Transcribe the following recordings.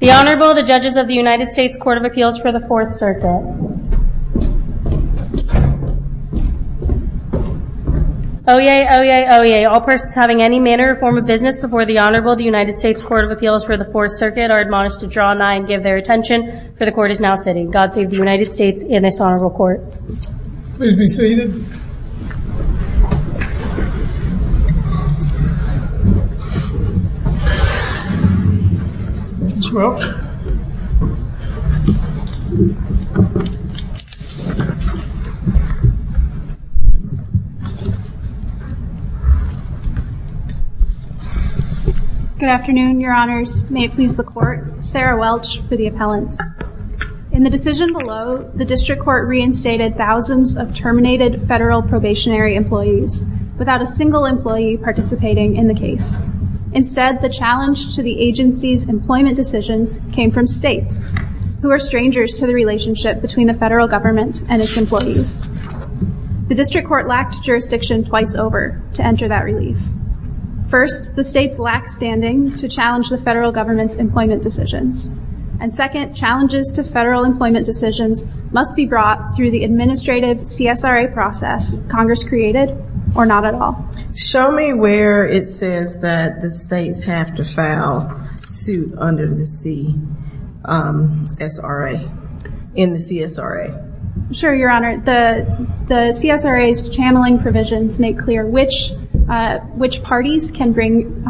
The Honorable, the Judges of the United States Court of Appeals for the Fourth Circuit. Oyez! Oyez! Oyez! All persons having any manner or form of business before the Honorable of the United States Court of Appeals for the Fourth Circuit are admonished to draw nigh and give their attention, for the Court is now sitting. God save the United States and its Honorable Court. Please be seated. Ms. Welch. Good afternoon, Your Honors. May it please the Court, Sarah Welch to the appellant. In the decision below, the District Court reinstated thousands of terminated federal probationary employees without a single employee participating in the case. Instead, the challenge to the agency's employment decisions came from states, who are strangers to the relationship between the federal government and its employees. The District Court lacked jurisdiction twice over to enter that relief. First, the states lacked standing to challenge the federal government's employment decisions. And second, challenges to federal employment decisions must be brought through the administrative CSRA process, Congress created or not at all. Show me where it says that the states have to file suit under the CSRA, in the CSRA. Sure, Your Honor. The CSRA's channeling provisions make clear which parties can bring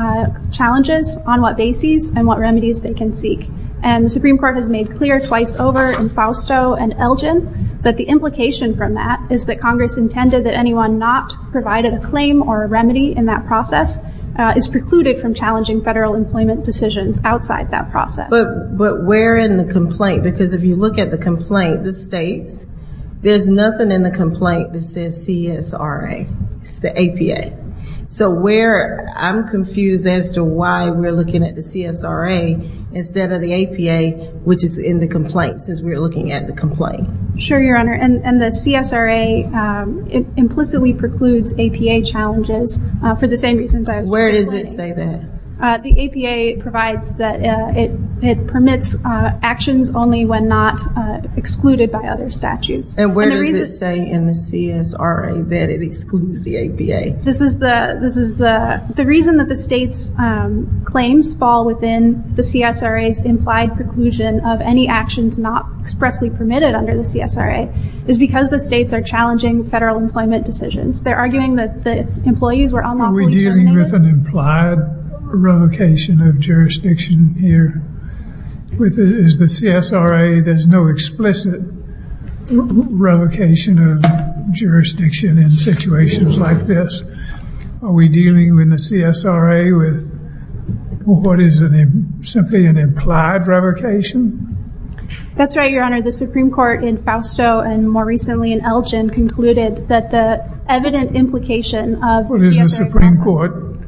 challenges, on what basis, and what remedies they can seek. And the Supreme Court has made clear twice over in Fausto and Elgin that the implication from that is that Congress intended that anyone not provided a claim or a remedy in that process is precluded from challenging federal employment decisions outside that process. But where in the complaint? Because if you look at the complaint, the states, there's nothing in the complaint that says CSRA, the APA. So where, I'm confused as to why we're looking at the CSRA instead of the APA, which is in the complaint, since we're looking at the complaint. Sure, Your Honor. And the CSRA implicitly precludes APA challenges for the same reasons I was just talking about. Where does it say that? The APA provides that it permits actions only when not excluded by other statutes. And where does it say in the CSRA that it excludes the APA? The reason that the states' claims fall within the CSRA's implied preclusion of any actions not expressly permitted under the CSRA is because the states are challenging federal employment decisions. Are we dealing with an implied revocation of jurisdiction here? With the CSRA, there's no explicit revocation of jurisdiction in situations like this. Are we dealing with the CSRA with what is simply an implied revocation? That's right, Your Honor. The Supreme Court in Fausto and more recently in Elgin concluded that the evident implication of... Is the Supreme Court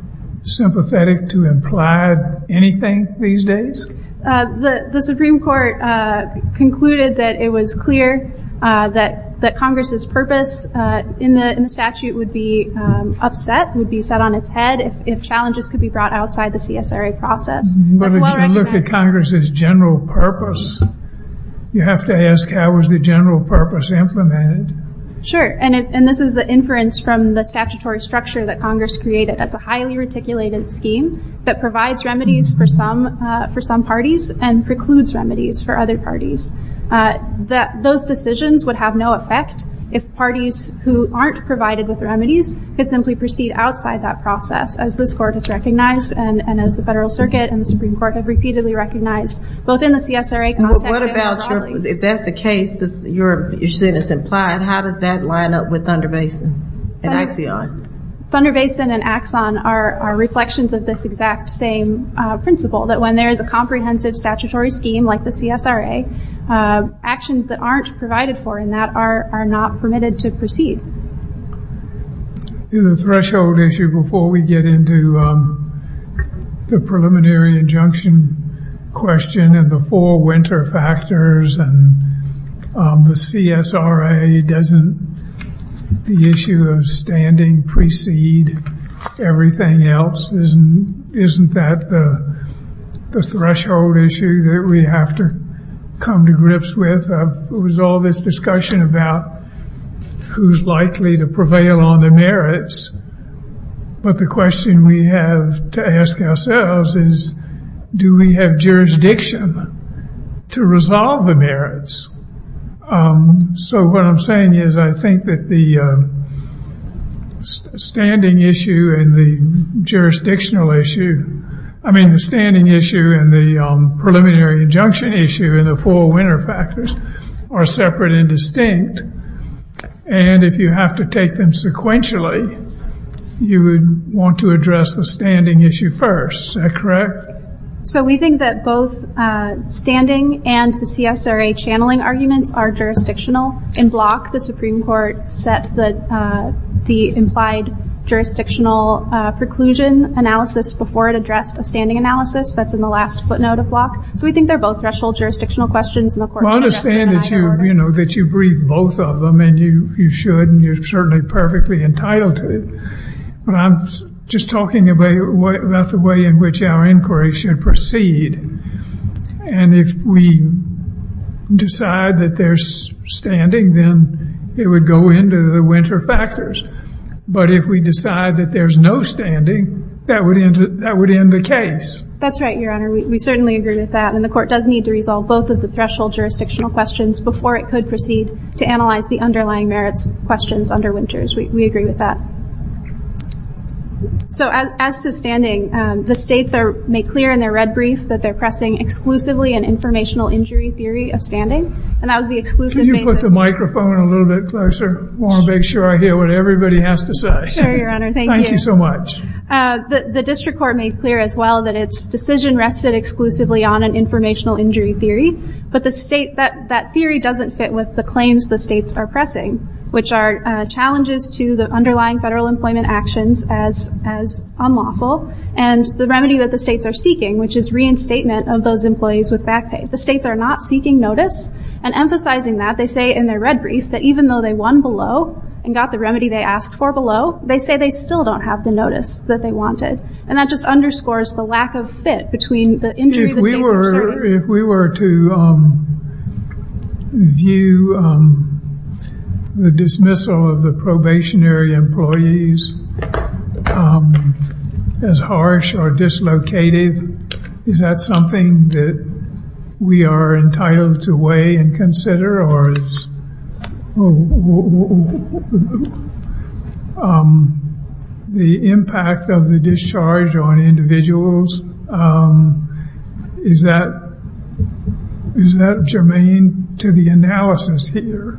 sympathetic to implied anything these days? The Supreme Court concluded that it was clear that Congress' purpose in the statute would be upset, would be set on its head if challenges could be brought outside the CSRA process. But if you look at Congress' general purpose, you have to ask how is the general purpose implemented? Sure, and this is the inference from the statutory structure that Congress created. That's a highly reticulated scheme that provides remedies for some parties and precludes remedies for other parties. Those decisions would have no effect if parties who aren't provided with remedies could simply proceed outside that process. As this Court has recognized and as the Federal Circuit and the Supreme Court have repeatedly recognized, both in the CSRA context... What about if that's the case, you're saying it's implied, how does that line up with Thunder Basin and Axion? Thunder Basin and Axion are reflections of this exact same principle. That when there's a comprehensive statutory scheme like the CSRA, actions that aren't provided for in that are not permitted to proceed. The threshold issue, before we get into the preliminary injunction question and the four winter factors and the CSRA, doesn't the issue of standing precede everything else? Isn't that the threshold issue that we have to come to grips with? There's all this discussion about who's likely to prevail on the merits. But the question we have to ask ourselves is, do we have jurisdiction to resolve the merits? So what I'm saying is I think that the standing issue and the jurisdictional issue... I mean the standing issue and the preliminary injunction issue and the four winter factors are separate and distinct. And if you have to take them sequentially, you would want to address the standing issue first. Is that correct? So we think that both standing and the CSRA channeling argument are jurisdictional. In Block, the Supreme Court set the implied jurisdictional preclusion analysis before it addressed the standing analysis. That's in the last footnote of Block. So we think they're both threshold jurisdictional questions. Well, I'm just saying that you agreed both of them, and you should, and you're certainly perfectly entitled to it. But I'm just talking about the way in which our inquiry should proceed. And if we decide that there's standing, then it would go into the winter factors. But if we decide that there's no standing, that would end the case. That's right, Your Honor. We certainly agree with that. And the court does need to resolve both of the threshold jurisdictional questions before it could proceed to analyze the underlying merits questions under winters. We agree with that. So as to standing, the states made clear in their red brief that they're pressing exclusively an informational injury theory of standing. Can you put the microphone a little bit closer? I want to make sure I hear what everybody has to say. Sure, Your Honor. Thank you. Thank you so much. The district court made clear as well that its decision rested exclusively on an informational injury theory, but that theory doesn't fit with the claims the states are pressing, which are challenges to the underlying federal employment actions as unlawful, and the remedy that the states are seeking, which is reinstatement of those employees with back pay. The states are not seeking notice and emphasizing that. They say in their red brief that even though they won below and got the remedy they asked for below, they say they still don't have the notice that they wanted. And that just underscores the lack of fit between the injury that the states are seeking. If we were to view the dismissal of the probationary employees as harsh or dislocated, is that something that we are entitled to weigh and consider? Or is the impact of the discharge on individuals, is that germane to the analysis here?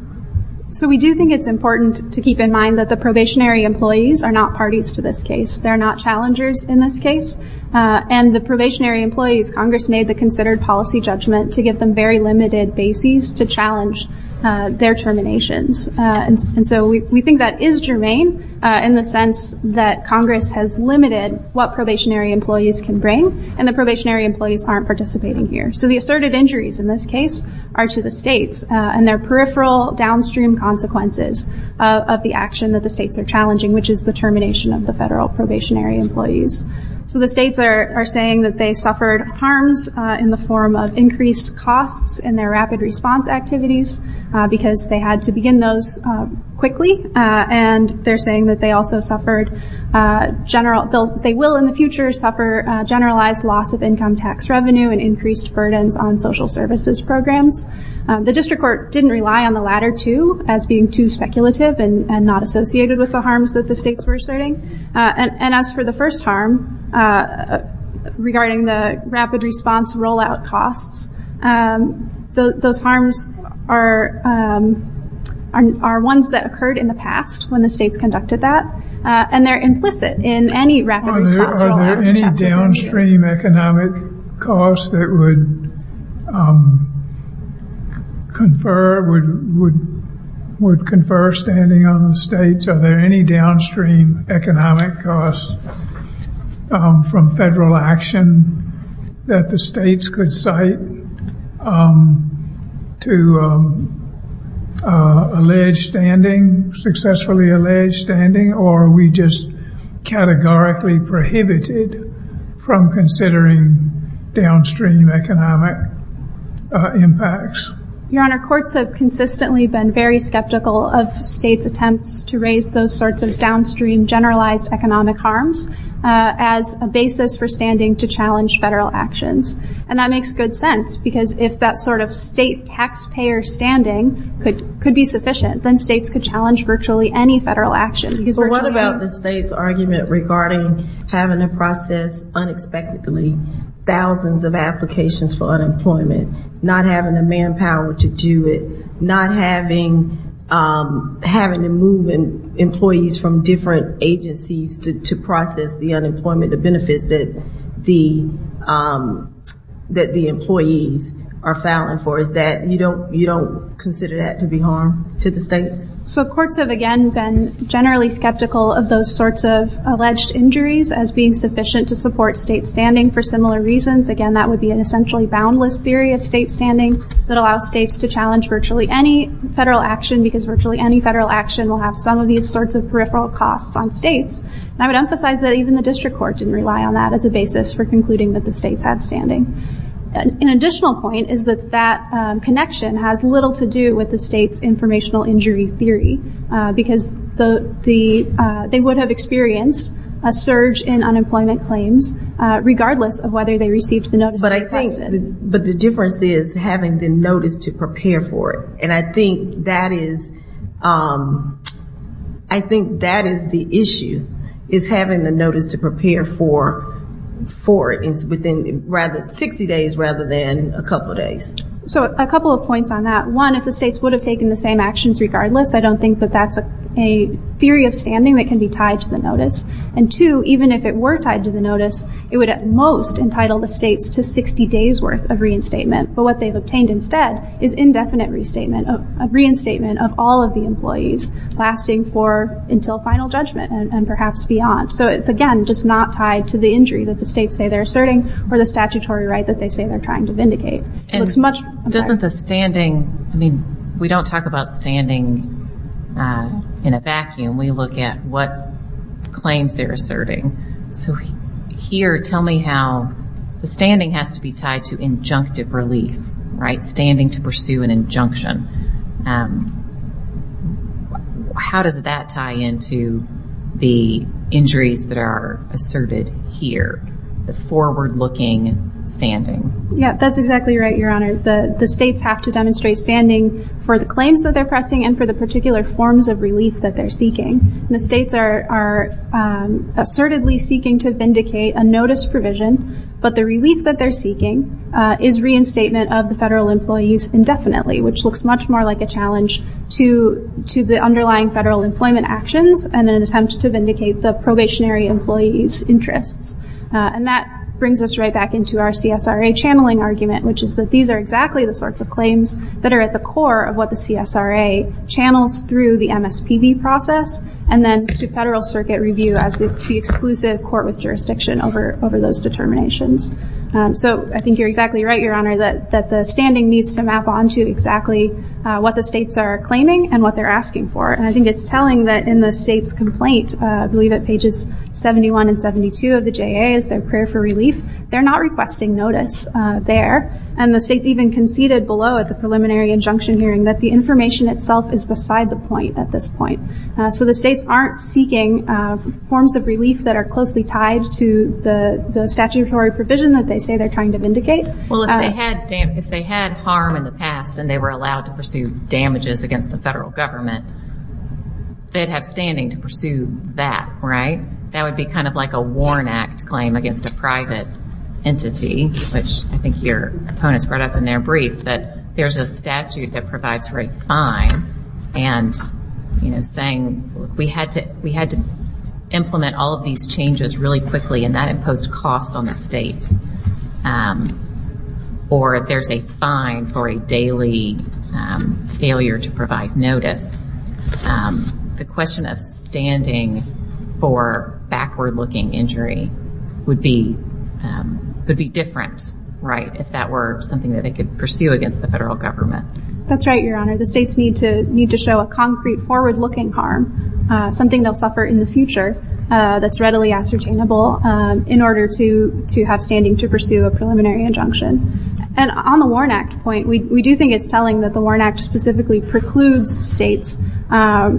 So we do think it's important to keep in mind that the probationary employees are not parties to this case. They're not challengers in this case, and the probationary employees, Congress made the considered policy judgment to get them very limited bases to challenge their terminations. And so we think that is germane in the sense that Congress has limited what probationary employees can bring, and the probationary employees aren't participating here. So the asserted injuries in this case are to the states, and they're peripheral downstream consequences of the action that the states are challenging, which is the termination of the federal probationary employees. So the states are saying that they suffered harms in the form of increased costs in their rapid response activities because they had to begin those quickly, and they're saying that they will in the future suffer generalized loss of income tax revenue and increased burdens on social services programs. The district court didn't rely on the latter two as being too speculative and not associated with the harms that the states were asserting, and as for the first harm regarding the rapid response rollout costs, those harms are ones that occurred in the past when the states conducted that, and they're implicit in any rapid response rollout. Are there any downstream economic costs that would confer standing on the states? Are there any downstream economic costs from federal action that the states could cite to alleged standing, successfully alleged standing, or are we just categorically prohibited from considering downstream economic impacts? Your Honor, courts have consistently been very skeptical of states' attempts to raise those sorts of downstream generalized economic harms as a basis for standing to challenge federal actions, and that makes good sense because if that sort of state taxpayer standing could be sufficient, then states could challenge virtually any federal action. But what about the states' argument regarding having to process unexpectedly thousands of applications for unemployment, not having the manpower to do it, not having to move employees from different agencies to process the unemployment, the benefit that the employees are filing for, is that you don't consider that to be harm to the states? So courts have, again, been generally skeptical of those sorts of alleged injuries as being sufficient to support state standing for similar reasons. Again, that would be an essentially boundless theory of state standing that allows states to challenge virtually any federal action because virtually any federal action will have some of these sorts of peripheral costs on states. I would emphasize that even the district court didn't rely on that as a basis for concluding that the states have standing. An additional point is that that connection has little to do with the states' informational injury theory because they would have experienced a surge in unemployment claims regardless of whether they received the notice of compensation. But the difference is having the notice to prepare for it, and I think that is the issue, is having the notice to prepare for it within 60 days rather than a couple of days. So a couple of points on that. One, if the states would have taken the same actions regardless, I don't think that that's a theory of standing that can be tied to the notice. And two, even if it were tied to the notice, it would at most entitle the states to 60 days' worth of reinstatement. But what they've obtained instead is indefinite reinstatement of all of the employees lasting for until final judgment and perhaps beyond. So it's, again, just not tied to the injury that the states say they're asserting or the statutory right that they say they're trying to vindicate. And doesn't the standing, I mean, we don't talk about standing in a vacuum. We look at what claims they're asserting. So here, tell me how the standing has to be tied to injunctive release, right, standing to pursue an injunction. How does that tie into the injuries that are asserted here, the forward-looking standing? Yeah, that's exactly right, Your Honor. The states have to demonstrate standing for the claims that they're pressing and for the particular forms of release that they're seeking. And the states are assertedly seeking to vindicate a notice provision, but the release that they're seeking is reinstatement of the federal employees indefinitely, which looks much more like a challenge to the underlying federal employment actions and an attempt to vindicate the probationary employees' interests. And that brings us right back into our CSRA channeling argument, which is that these are exactly the sorts of claims that are at the core of what the CSRA channels through the MSPB process and then to federal circuit review as the exclusive court with jurisdiction over those determinations. So I think you're exactly right, Your Honor, that the standing needs to map onto exactly what the states are claiming and what they're asking for. And I think it's telling that in the state's complaint, I believe at pages 71 and 72 of the JA, they're not requesting notice there. And the states even conceded below at the preliminary injunction hearing that the information itself is beside the point at this point. So the states aren't seeking forms of release that are closely tied to the statutory provision that they say they're trying to vindicate. Well, if they had harm in the past and they were allowed to pursue damages against the federal government, they'd have standing to pursue that, right? That would be kind of like a Warren Act claim against a private entity, which I think your opponents brought up in their brief, that there's a statute that provides for a fine and, you know, saying we had to implement all of these changes really quickly and that imposed costs on the state. Or if there's a fine for a daily failure to provide notice. The question of standing for backward-looking injury would be different, right, if that were something that they could pursue against the federal government. That's right, Your Honor. The states need to show a concrete forward-looking harm, something they'll suffer in the future that's readily ascertainable, in order to have standing to pursue a preliminary injunction. And on the Warren Act point, we do think it's telling that the Warren Act specifically precludes states,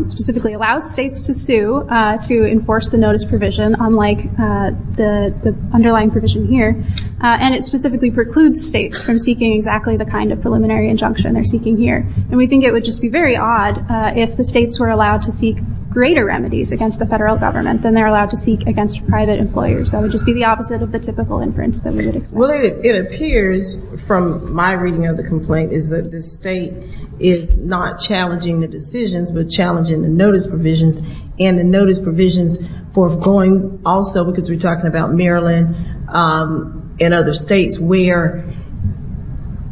specifically allows states to sue to enforce the notice provision, unlike the underlying provision here, and it specifically precludes states from seeking exactly the kind of preliminary injunction they're seeking here. And we think it would just be very odd if the states were allowed to seek greater remedies against the federal government than they're allowed to seek against private employers. That would just be the opposite of the typical inference that we would expect. Well, it appears, from my reading of the complaint, is that the state is not challenging the decisions, but challenging the notice provisions, and the notice provisions for going also, because we're talking about Maryland and other states, where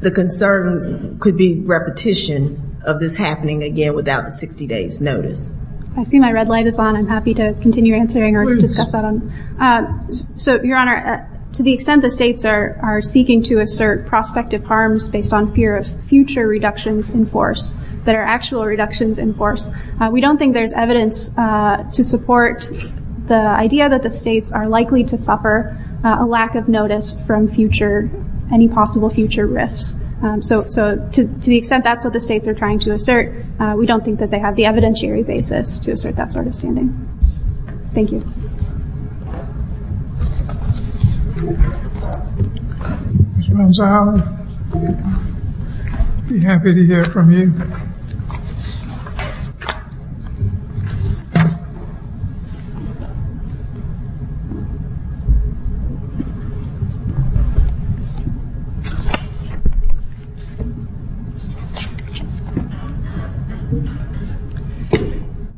the concern could be repetition of this happening again without the 60 days notice. I see my red light is on. I'm happy to continue answering or discuss that. So, Your Honor, to the extent the states are seeking to assert prospective harms based on fear of future reductions in force, that are actual reductions in force, we don't think there's evidence to support the idea that the states are likely to suffer a lack of notice from any possible future risks. So, to the extent that's what the states are trying to assert, we don't think that they have the evidentiary basis to assert that sort of standing. Thank you.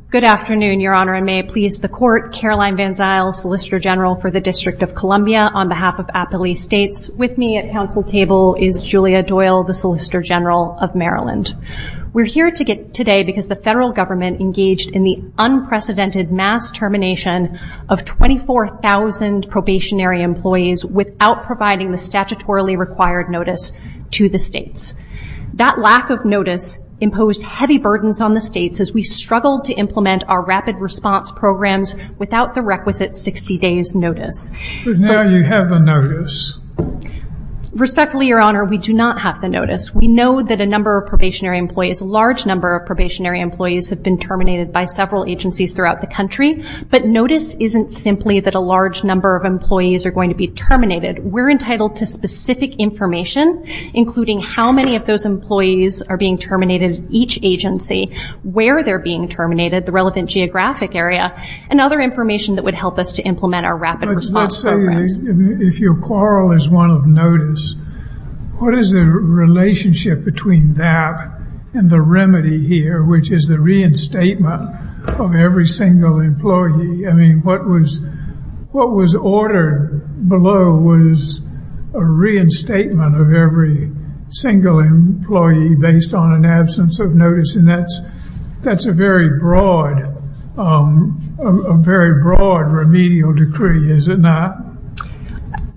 Good afternoon, Your Honor. And may it please the Court, Caroline Van Zyl, Solicitor General for the District of Columbia, on behalf of Appalachian States. With me at Council Table is Julia Doyle, the Solicitor General of Maryland. We're here today because the federal government engaged in the unprecedented mass termination of 24,000 probationary employees without providing the statutorily required notice to the states. That lack of notice imposed heavy burdens on the states as we struggled to implement our rapid response programs without the requisite 60 days notice. But now you have a notice. Respectfully, Your Honor, we do not have the notice. We know that a number of probationary employees, a large number of probationary employees have been terminated by several agencies throughout the country, but notice isn't simply that a large number of employees are going to be terminated. We're entitled to specific information, including how many of those employees are being terminated at each agency, where they're being terminated, the relevant geographic area, and other information that would help us to implement our rapid response program. Let's say if your quarrel is one of notice, what is the relationship between that and the remedy here, which is the reinstatement of every single employee? I mean, what was ordered below was a reinstatement of every single employee based on an absence of notice, and that's a very broad remedial decree, is it not?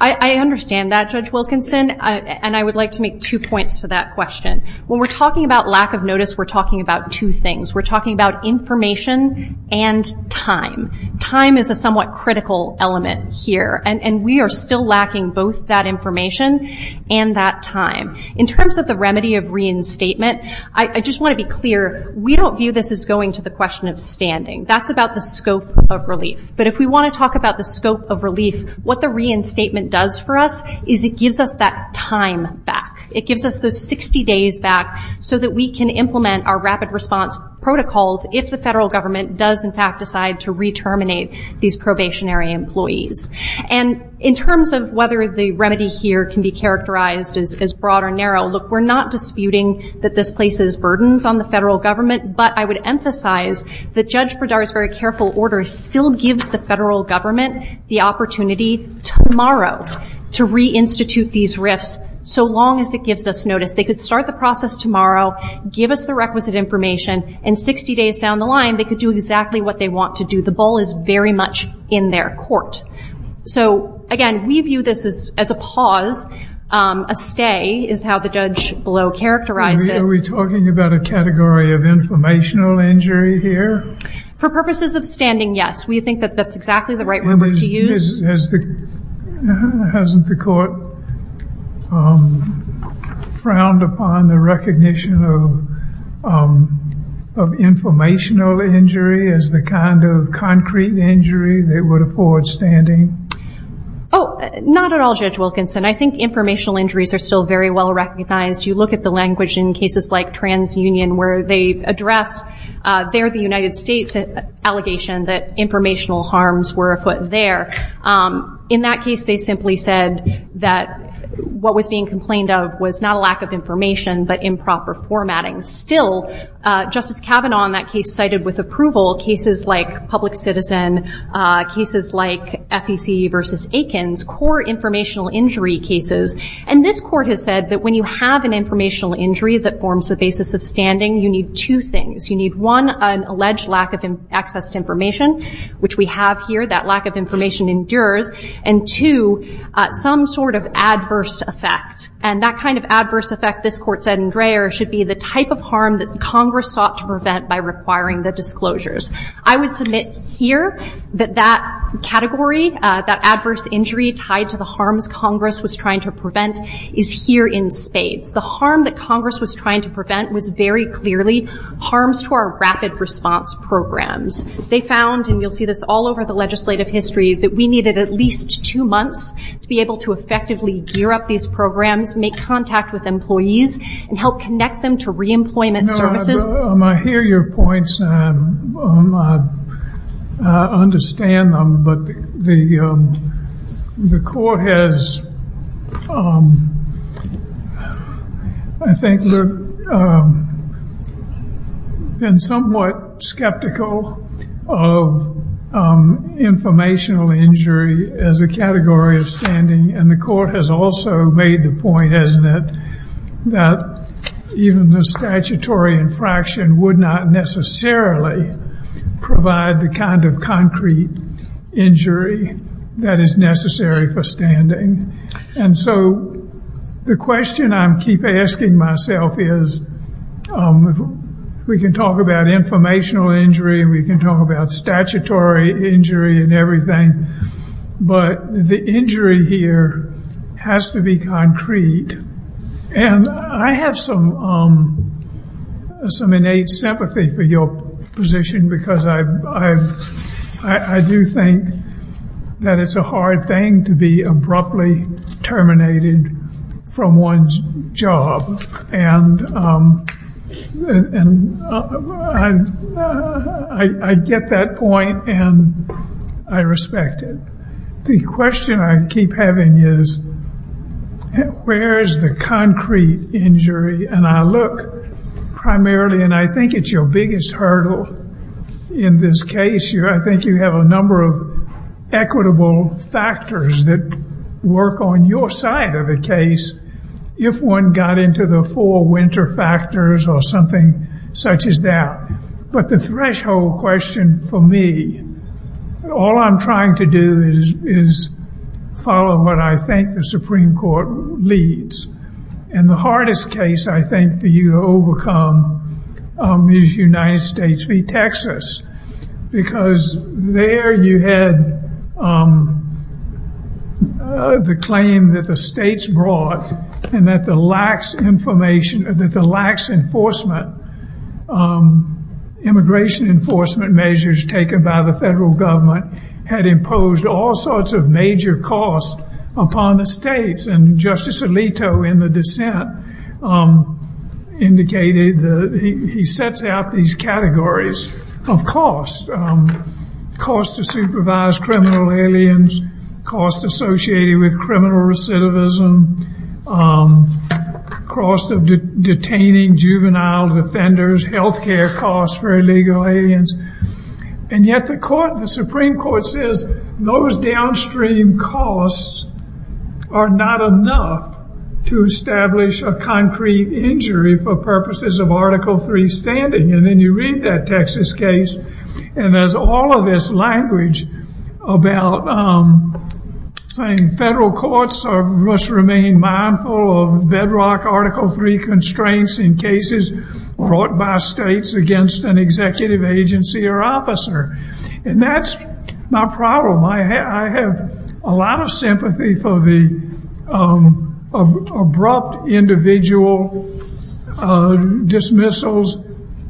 I understand that, Judge Wilkinson, and I would like to make two points to that question. When we're talking about lack of notice, we're talking about two things. We're talking about information and time. Time is a somewhat critical element here, and we are still lacking both that information and that time. In terms of the remedy of reinstatement, I just want to be clear, we don't view this as going to the question of standing. That's about the scope of relief, but if we want to talk about the scope of relief, what the reinstatement does for us is it gives us that time back. It gives us the 60 days back so that we can implement our rapid response protocols if the federal government does, in fact, decide to reterminate these probationary employees. And in terms of whether the remedy here can be characterized as broad or narrow, look, we're not disputing that this places burdens on the federal government, but I would emphasize that Judge Breda's very careful order still gives the federal government the opportunity tomorrow to reinstitute these risks so long as it gives us notice. They could start the process tomorrow, give us the requisite information, and 60 days down the line they could do exactly what they want to do. The ball is very much in their court. So, again, we view this as a pause. A stay is how the judge below characterized it. Are we talking about a category of informational injury here? For purposes of standing, yes. We think that that's exactly the right word to use. Hasn't the court frowned upon the recognition of informational injury as the kind of concrete injury that would afford standing? Oh, not at all, Judge Wilkinson. I think informational injuries are still very well recognized. You look at the language in cases like TransUnion where they address, they're the United States allegation that informational harms were afoot there. In that case, they simply said that what was being complained of was not a lack of information, but improper formatting. Still, Justice Kavanaugh in that case cited with approval cases like Public Citizen, cases like FEC versus Aikens, core informational injury cases. And this court has said that when you have an informational injury that forms the basis of standing, you need two things. You need, one, an alleged lack of access to information, which we have here. That lack of information endures. And, two, some sort of adverse effect. And that kind of adverse effect, this court said in Dreher, should be the type of harm that Congress sought to prevent by requiring the disclosures. I would submit here that that category, that adverse injury tied to the harms Congress was trying to prevent, is here in spades. The harm that Congress was trying to prevent was very clearly harms to our rapid response programs. They found, and you'll see this all over the legislative history, that we needed at least two months to be able to effectively gear up these programs, make contact with employees, and help connect them to re-employment services. I hear your points, and I understand them. But the court has, I think, been somewhat skeptical of informational injury as a category of standing. And the court has also made the point, hasn't it, that even the statutory infraction would not necessarily provide the kind of concrete injury that is necessary for standing. And so the question I keep asking myself is, we can talk about informational injury, and we can talk about statutory injury and everything, but the injury here has to be concrete. And I have some innate sympathy for your position, because I do think that it's a hard thing to be abruptly terminated from one's job. And I get that point, and I respect it. The question I keep having is, where is the concrete injury? And I look primarily, and I think it's your biggest hurdle in this case. I think you have a number of equitable factors that work on your side of the case. If one got into the four winter factors or something such as that. But the threshold question for me, all I'm trying to do is follow what I think the Supreme Court leads. And the hardest case, I think, for you to overcome is United States v. Texas. Because there you had the claim that the states brought, and that the lax enforcement, immigration enforcement measures taken by the federal government, had imposed all sorts of major costs upon the states. And Justice Alito in the dissent indicated that he sets out these categories of costs. Costs to supervise criminal aliens, costs associated with criminal recidivism, costs of detaining juvenile offenders, health care costs for illegal aliens. And yet the Supreme Court says those downstream costs are not enough to establish a concrete injury for purposes of Article III standing. And then you read that Texas case, and there's all of this language about saying federal courts must remain mindful of bedrock Article III constraints in cases brought by states against an executive agency or officer. And that's my problem. I have a lot of sympathy for the abrupt individual dismissals,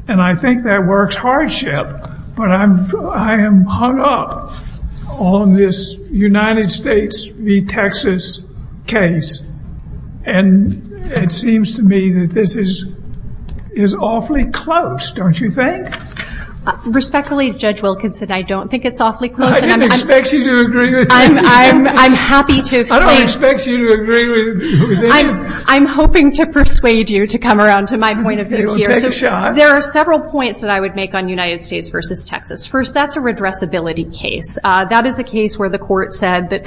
and I think that works hardship. But I am hung up on this United States v. Texas case. And it seems to me that this is awfully close, don't you think? Respectfully, Judge Wilkinson, I don't think it's awfully close. I don't expect you to agree with me. I'm happy to. I don't expect you to agree with me. I'm hoping to persuade you to come around to my point of view here. There are several points that I would make on United States v. Texas. First, that's a redressability case. That is a case where the court said that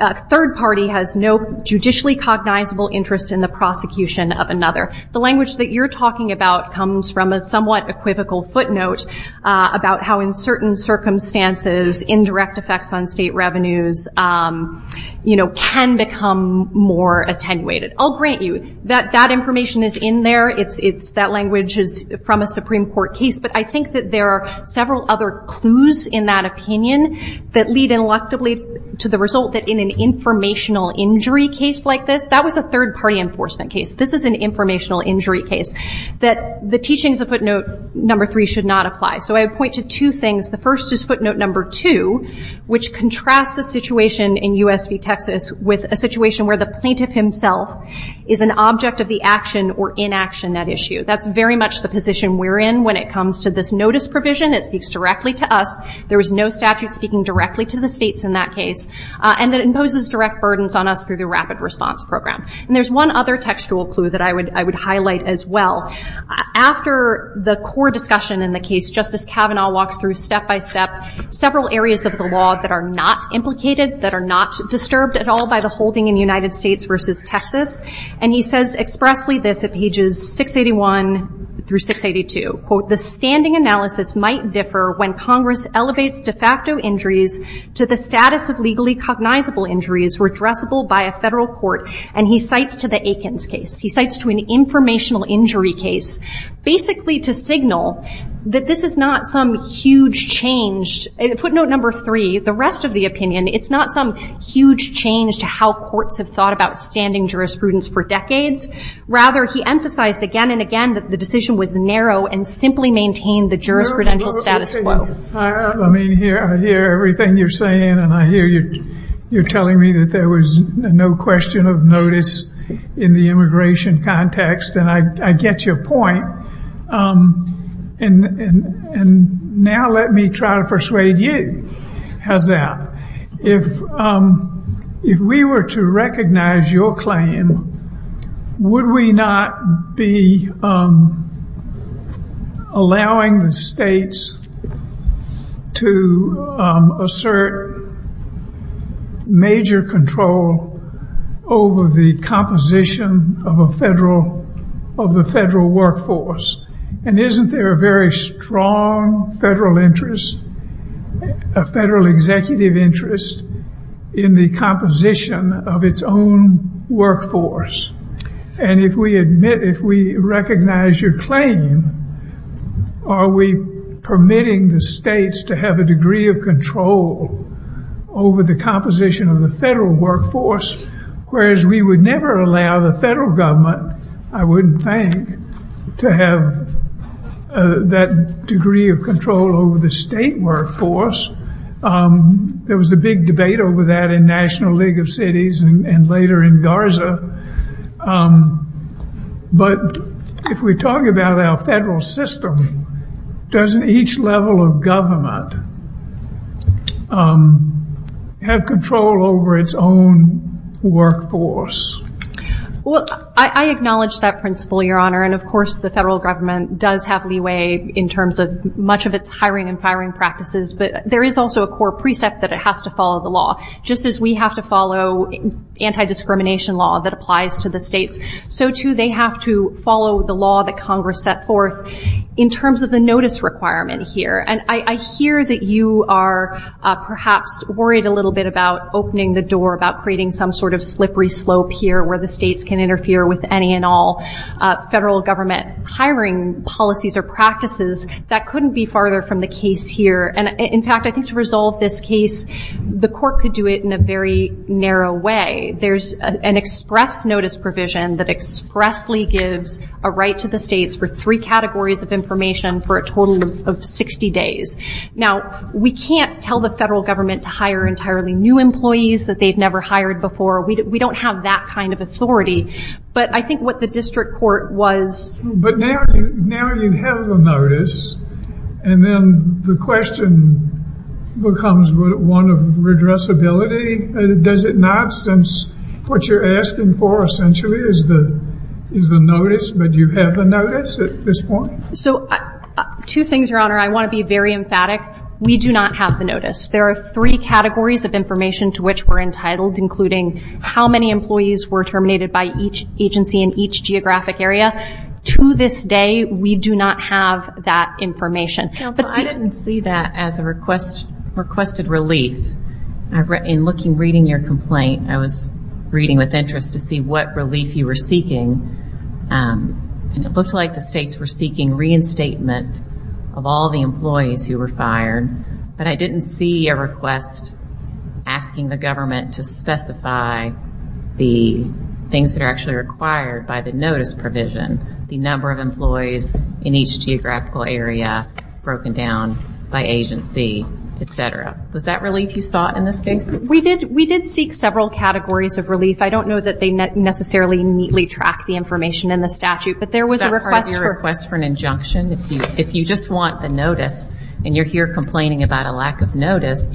a third party has no judicially cognizable interest in the prosecution of another. The language that you're talking about comes from a somewhat equivocal footnote about how in certain circumstances, indirect effects on state revenues can become more attenuated. I'll grant you that that information is in there. That language is from a Supreme Court case. But I think that there are several other clues in that opinion that lead ineluctably to the result that in an informational injury case like this, that was a third party enforcement case. This is an informational injury case. That the teachings of footnote number three should not apply. So I point to two things. The first is footnote number two, which contrasts the situation in U.S. v. Texas with a situation where the plaintiff himself is an object of the action or inaction at issue. That's very much the position we're in when it comes to this notice provision. It speaks directly to us. There is no statute speaking directly to the states in that case. And it imposes direct burdens on us through the rapid response program. And there's one other textual clue that I would highlight as well. After the core discussion in the case, Justice Kavanaugh walks through step-by-step several areas of the law that are not implicated, that are not disturbed at all by the holding in the United States v. Texas. And he says expressly this at pages 681 through 682. Quote, the standing analysis might differ when Congress elevates de facto injuries to the status of legally cognizable injuries redressable by a federal court. And he cites to the Aikens case. He cites to an informational injury case. Basically to signal that this is not some huge change. Footnote number three, the rest of the opinion, it's not some huge change to how courts have thought about standing jurisprudence for decades. Rather, he emphasized again and again that the decision was narrow and simply maintained the jurisprudential status quo. Let me hear everything you're saying. And I hear you're telling me that there was no question of notice in the immigration context. And I get your point. And now let me try to persuade you of that. If we were to recognize your claim, would we not be allowing the states to assert major control over the composition of the federal workforce? And isn't there a very strong federal interest, a federal executive interest, in the composition of its own workforce? And if we admit, if we recognize your claim, are we permitting the states to have a degree of control over the composition of the federal workforce? Whereas we would never allow the federal government, I wouldn't think, to have that degree of control over the state workforce. There was a big debate over that in National League of Cities and later in Garza. But if we talk about our federal system, doesn't each level of government have control over its own workforce? Well, I acknowledge that principle, Your Honor. And, of course, the federal government does have leeway in terms of much of its hiring and firing practices. But there is also a core precept that it has to follow the law. Just as we have to follow anti-discrimination law that applies to the states, so, too, they have to follow the law that Congress set forth in terms of the notice requirement here. And I hear that you are perhaps worried a little bit about opening the door, about creating some sort of slippery slope here where the states can interfere with any and all federal government hiring policies or practices. That couldn't be farther from the case here. And, in fact, I think to resolve this case, the court could do it in a very narrow way. There's an express notice provision that expressly gives a right to the states for three categories of information for a total of 60 days. Now, we can't tell the federal government to hire entirely new employees that they've never hired before. We don't have that kind of authority. But I think what the district court was. But now you have the notice, and then the question becomes one of redressability. Does it not, since what you're asking for essentially is the notice, but do you have the notice at this point? So, two things, Your Honor. I want to be very emphatic. We do not have the notice. There are three categories of information to which we're entitled, including how many employees were terminated by each agency in each geographic area. To this day, we do not have that information. I didn't see that as a requested relief. In reading your complaint, I was reading with interest to see what relief you were seeking. It looked like the states were seeking reinstatement of all the employees who were fired. But I didn't see a request asking the government to specify the things that are actually required by the notice provision, the number of employees in each geographical area broken down by agency, et cetera. Was that relief you sought in this case? We did seek several categories of relief. I don't know that they necessarily neatly tracked the information in the statute. But there was a request for an injunction. If you just want a notice and you're here complaining about a lack of notice,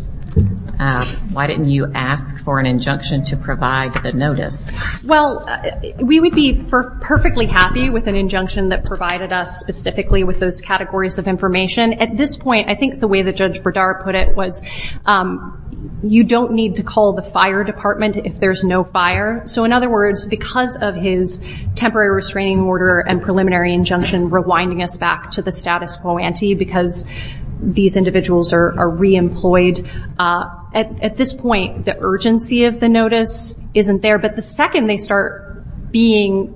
why didn't you ask for an injunction to provide the notice? Well, we would be perfectly happy with an injunction that provided us specifically with those categories of information. At this point, I think the way that Judge Berdar put it was you don't need to call the fire department if there's no fire. So, in other words, because of his temporary restraining order and preliminary injunction rewinding us back to the status quo ante because these individuals are reemployed, at this point, the urgency of the notice isn't there. But the second they start being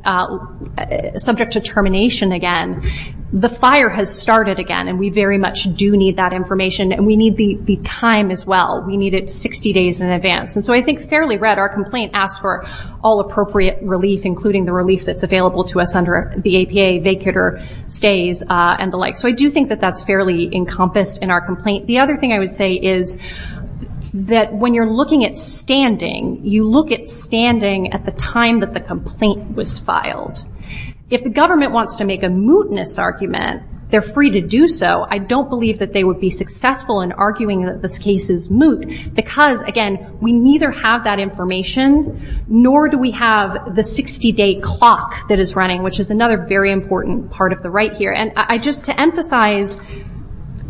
subject to termination again, the fire has started again. And we very much do need that information. And we need the time as well. We need it 60 days in advance. And so I think it's fairly read. Our complaint asks for all appropriate relief, including the relief that's available to us under the APA vacator phase and the like. So I do think that that's fairly encompassed in our complaint. The other thing I would say is that when you're looking at standing, you look at standing at the time that the complaint was filed. If the government wants to make a mootness argument, they're free to do so. I don't believe that they would be successful in arguing that this case is moot because, again, we neither have that information, nor do we have the 60-day clock that is running, which is another very important part of the right here. And just to emphasize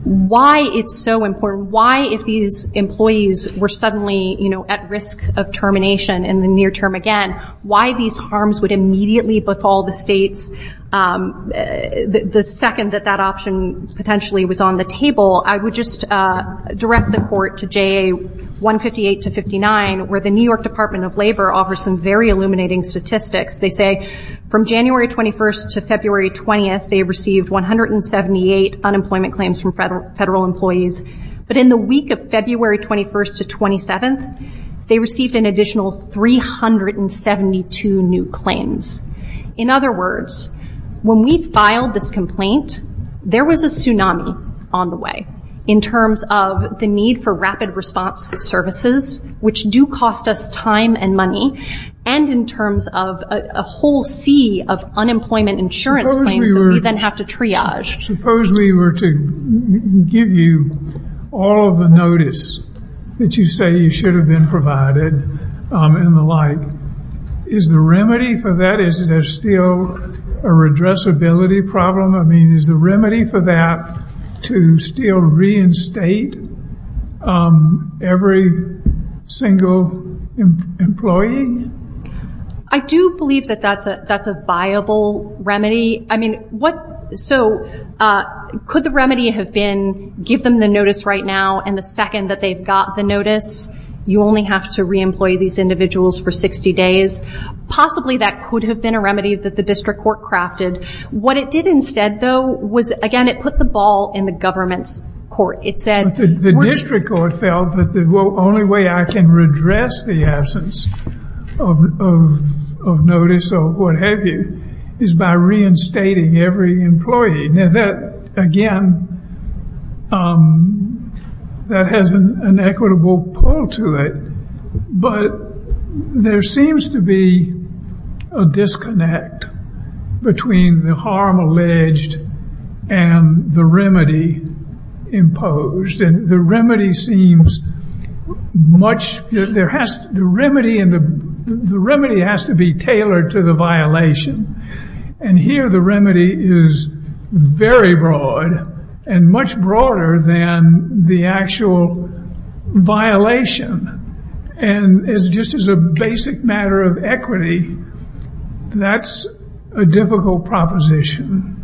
why it's so important, why if these employees were suddenly, you know, at risk of termination in the near term again, why these harms would immediately befall the states, the second that that option potentially was on the table, I would just direct the court to JA 158-59, where the New York Department of Labor offers some very illuminating statistics. They say from January 21st to February 20th, they received 178 unemployment claims from federal employees. But in the week of February 21st to 27th, they received an additional 372 new claims. In other words, when we filed this complaint, there was a tsunami on the way in terms of the need for rapid response services, which do cost us time and money, and in terms of a whole sea of unemployment insurance claims that we then have to triage. Suppose we were to give you all of the notice that you say you should have been provided and the like. Is the remedy for that, is there still a redressability problem? I mean, is the remedy for that to still reinstate every single employee? I do believe that that's a viable remedy. So, could the remedy have been, give them the notice right now, and the second that they've got the notice, you only have to re-employ these individuals for 60 days? Possibly that could have been a remedy that the district court crafted. What it did instead, though, was, again, it put the ball in the government's court. The district court felt that the only way I can redress the absence of notice or what have you is by reinstating every employee. Now that, again, that has an equitable pull to it. But there seems to be a disconnect between the harm alleged and the remedy imposed. And the remedy seems much, the remedy has to be tailored to the violation. And here the remedy is very broad and much broader than the actual violation. And just as a basic matter of equity, that's a difficult proposition.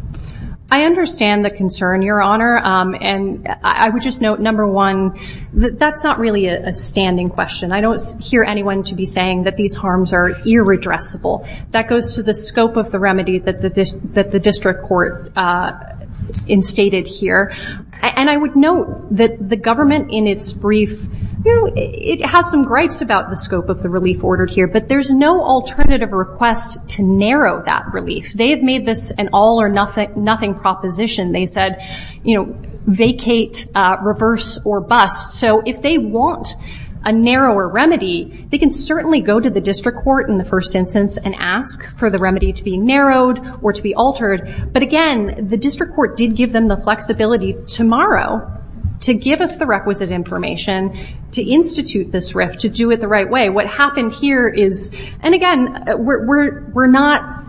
I understand the concern, Your Honor. And I would just note, number one, that that's not really a standing question. I don't hear anyone to be saying that these harms are irredressable. That goes to the scope of the remedy that the district court instated here. And I would note that the government in its brief, you know, it has some gripes about the scope of the relief ordered here. But there's no alternative request to narrow that relief. They have made this an all or nothing proposition. They said, you know, vacate, reverse, or bust. So if they want a narrower remedy, they can certainly go to the district court in the first instance and ask for the remedy to be narrowed or to be altered. But, again, the district court did give them the flexibility tomorrow to give us the requisite information to institute this rift, to do it the right way. What happened here is, and, again, we're not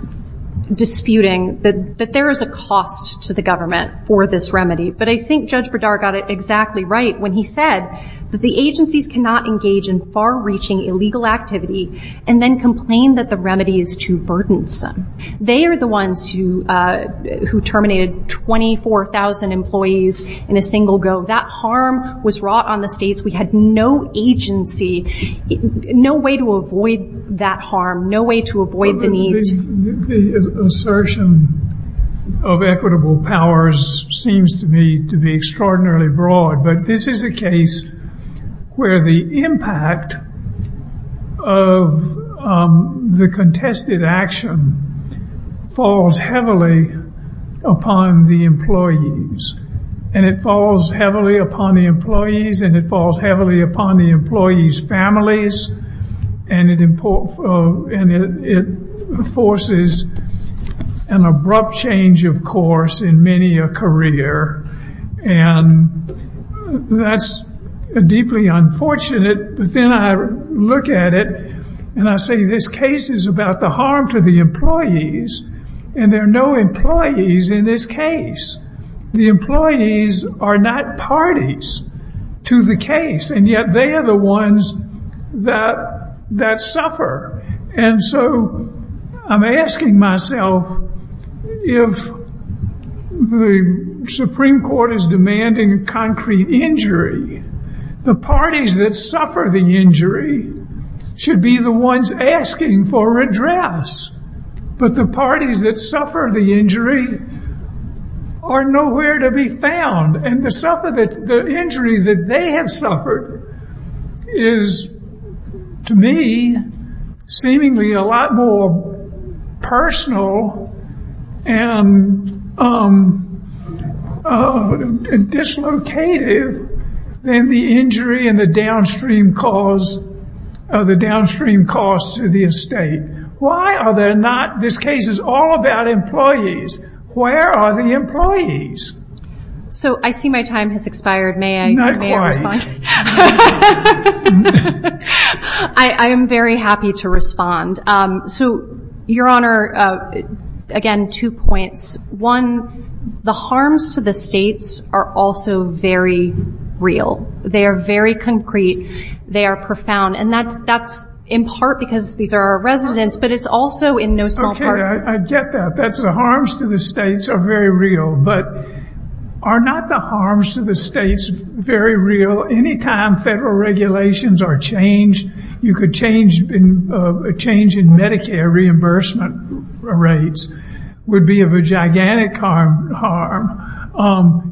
disputing that there is a cost to the government for this remedy. But I think Judge Berdara got it exactly right when he said that the agencies cannot engage in far-reaching illegal activity and then complain that the remedy is too burdensome. They are the ones who terminated 24,000 employees in a single go. That harm was wrought on the states. We had no agency, no way to avoid that harm, no way to avoid the need. The assertion of equitable powers seems to be extraordinarily broad. But this is a case where the impact of the contested action falls heavily upon the employees. And it falls heavily upon the employees, and it falls heavily upon the employees' families. And it forces an abrupt change, of course, in many a career. And that's deeply unfortunate. But then I look at it, and I say this case is about the harm to the employees, and there are no employees in this case. The employees are not parties to the case, and yet they are the ones that suffer. And so I'm asking myself, if the Supreme Court is demanding concrete injury, the parties that suffer the injury should be the ones asking for redress. But the parties that suffer the injury are nowhere to be found. And the injury that they have suffered is, to me, seemingly a lot more personal and dislocated than the injury and the downstream cost to the estate. Why are there not, this case is all about employees. Where are the employees? So, I see my time has expired. May I respond? I am very happy to respond. So, Your Honor, again, two points. One, the harms to the estates are also very real. They are very concrete. They are profound. And that's in part because these are our residents, but it's also in no small part. I get that. The harms to the estates are very real. But are not the harms to the estates very real? Any time federal regulations are changed, you could change, a change in Medicare reimbursement rates would be of a gigantic harm.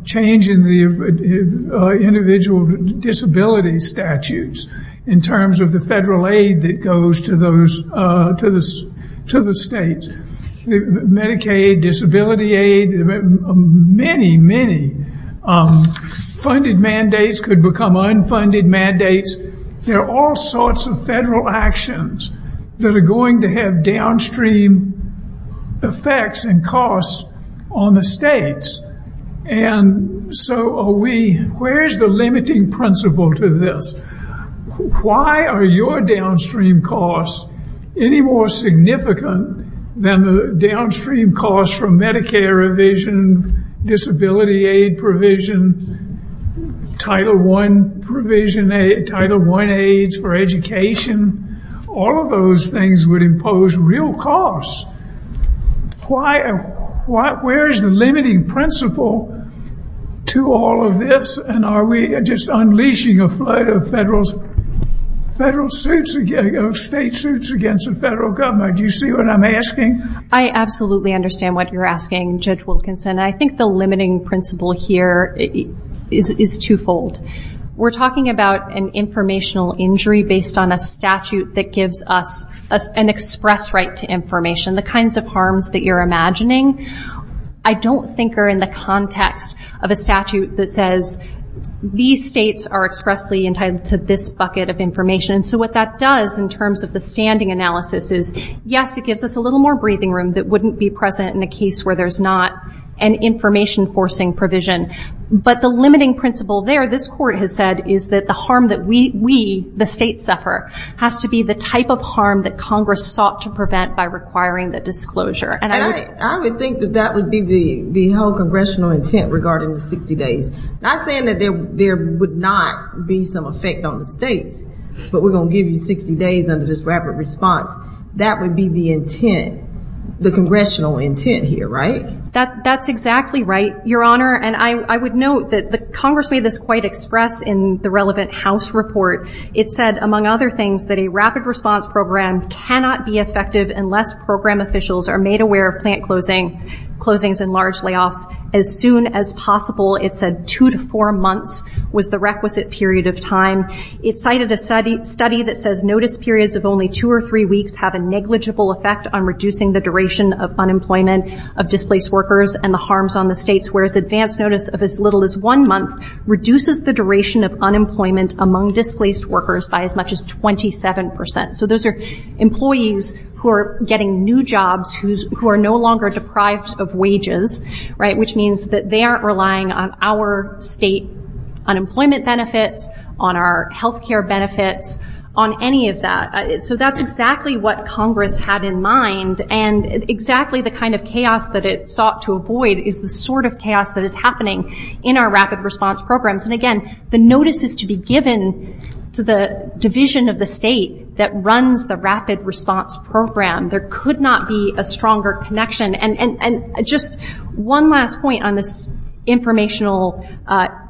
Change in the individual disability statutes in terms of the federal aid that goes to the states. Medicaid, disability aid, many, many funded mandates could become unfunded mandates. There are all sorts of federal actions that are going to have downstream effects and costs on the states. And so, are we, where is the limiting principle to this? Why are your downstream costs any more significant than the downstream costs from Medicare revision, disability aid provision, Title I provision, Title I aids for education? All of those things would impose real costs. Where is the limiting principle to all of this? And are we just unleashing a flood of federal suits, state suits against the federal government? Do you see what I'm asking? I absolutely understand what you're asking, Judge Wilkinson. I think the limiting principle here is twofold. We're talking about an informational injury based on a statute that gives us an express right to information, the kinds of harms that you're imagining. I don't think we're in the context of a statute that says these states are expressly entitled to this bucket of information. So, what that does in terms of the standing analysis is, yes, it gives us a little more breathing room that wouldn't be present in a case where there's not an information forcing provision. But the limiting principle there, this court has said, is that the harm that we, the state, suffer has to be the type of harm that Congress sought to prevent by requiring the disclosure. I would think that that would be the whole congressional intent regarding the 60 days. I'm saying that there would not be some effect on the state, but we're going to give you 60 days under this rapid response. That would be the intent, the congressional intent here, right? That's exactly right, Your Honor. And I would note that Congress made this quite expressed in the relevant House report. It said, among other things, that a rapid response program cannot be effective unless program officials are made aware of plant closings and large layoffs as soon as possible. It said two to four months was the requisite period of time. It cited a study that says notice periods of only two or three weeks have a negligible effect on reducing the duration of unemployment of displaced workers and the harms on the states, whereas advance notice of as little as one month reduces the duration of unemployment among displaced workers by as much as 27%. So those are employees who are getting new jobs who are no longer deprived of wages, right? There are health care benefits on any of that. So that's exactly what Congress had in mind, and exactly the kind of chaos that it sought to avoid is the sort of chaos that is happening in our rapid response programs. And again, the notice is to be given to the division of the state that runs the rapid response program. There could not be a stronger connection. And just one last point on this informational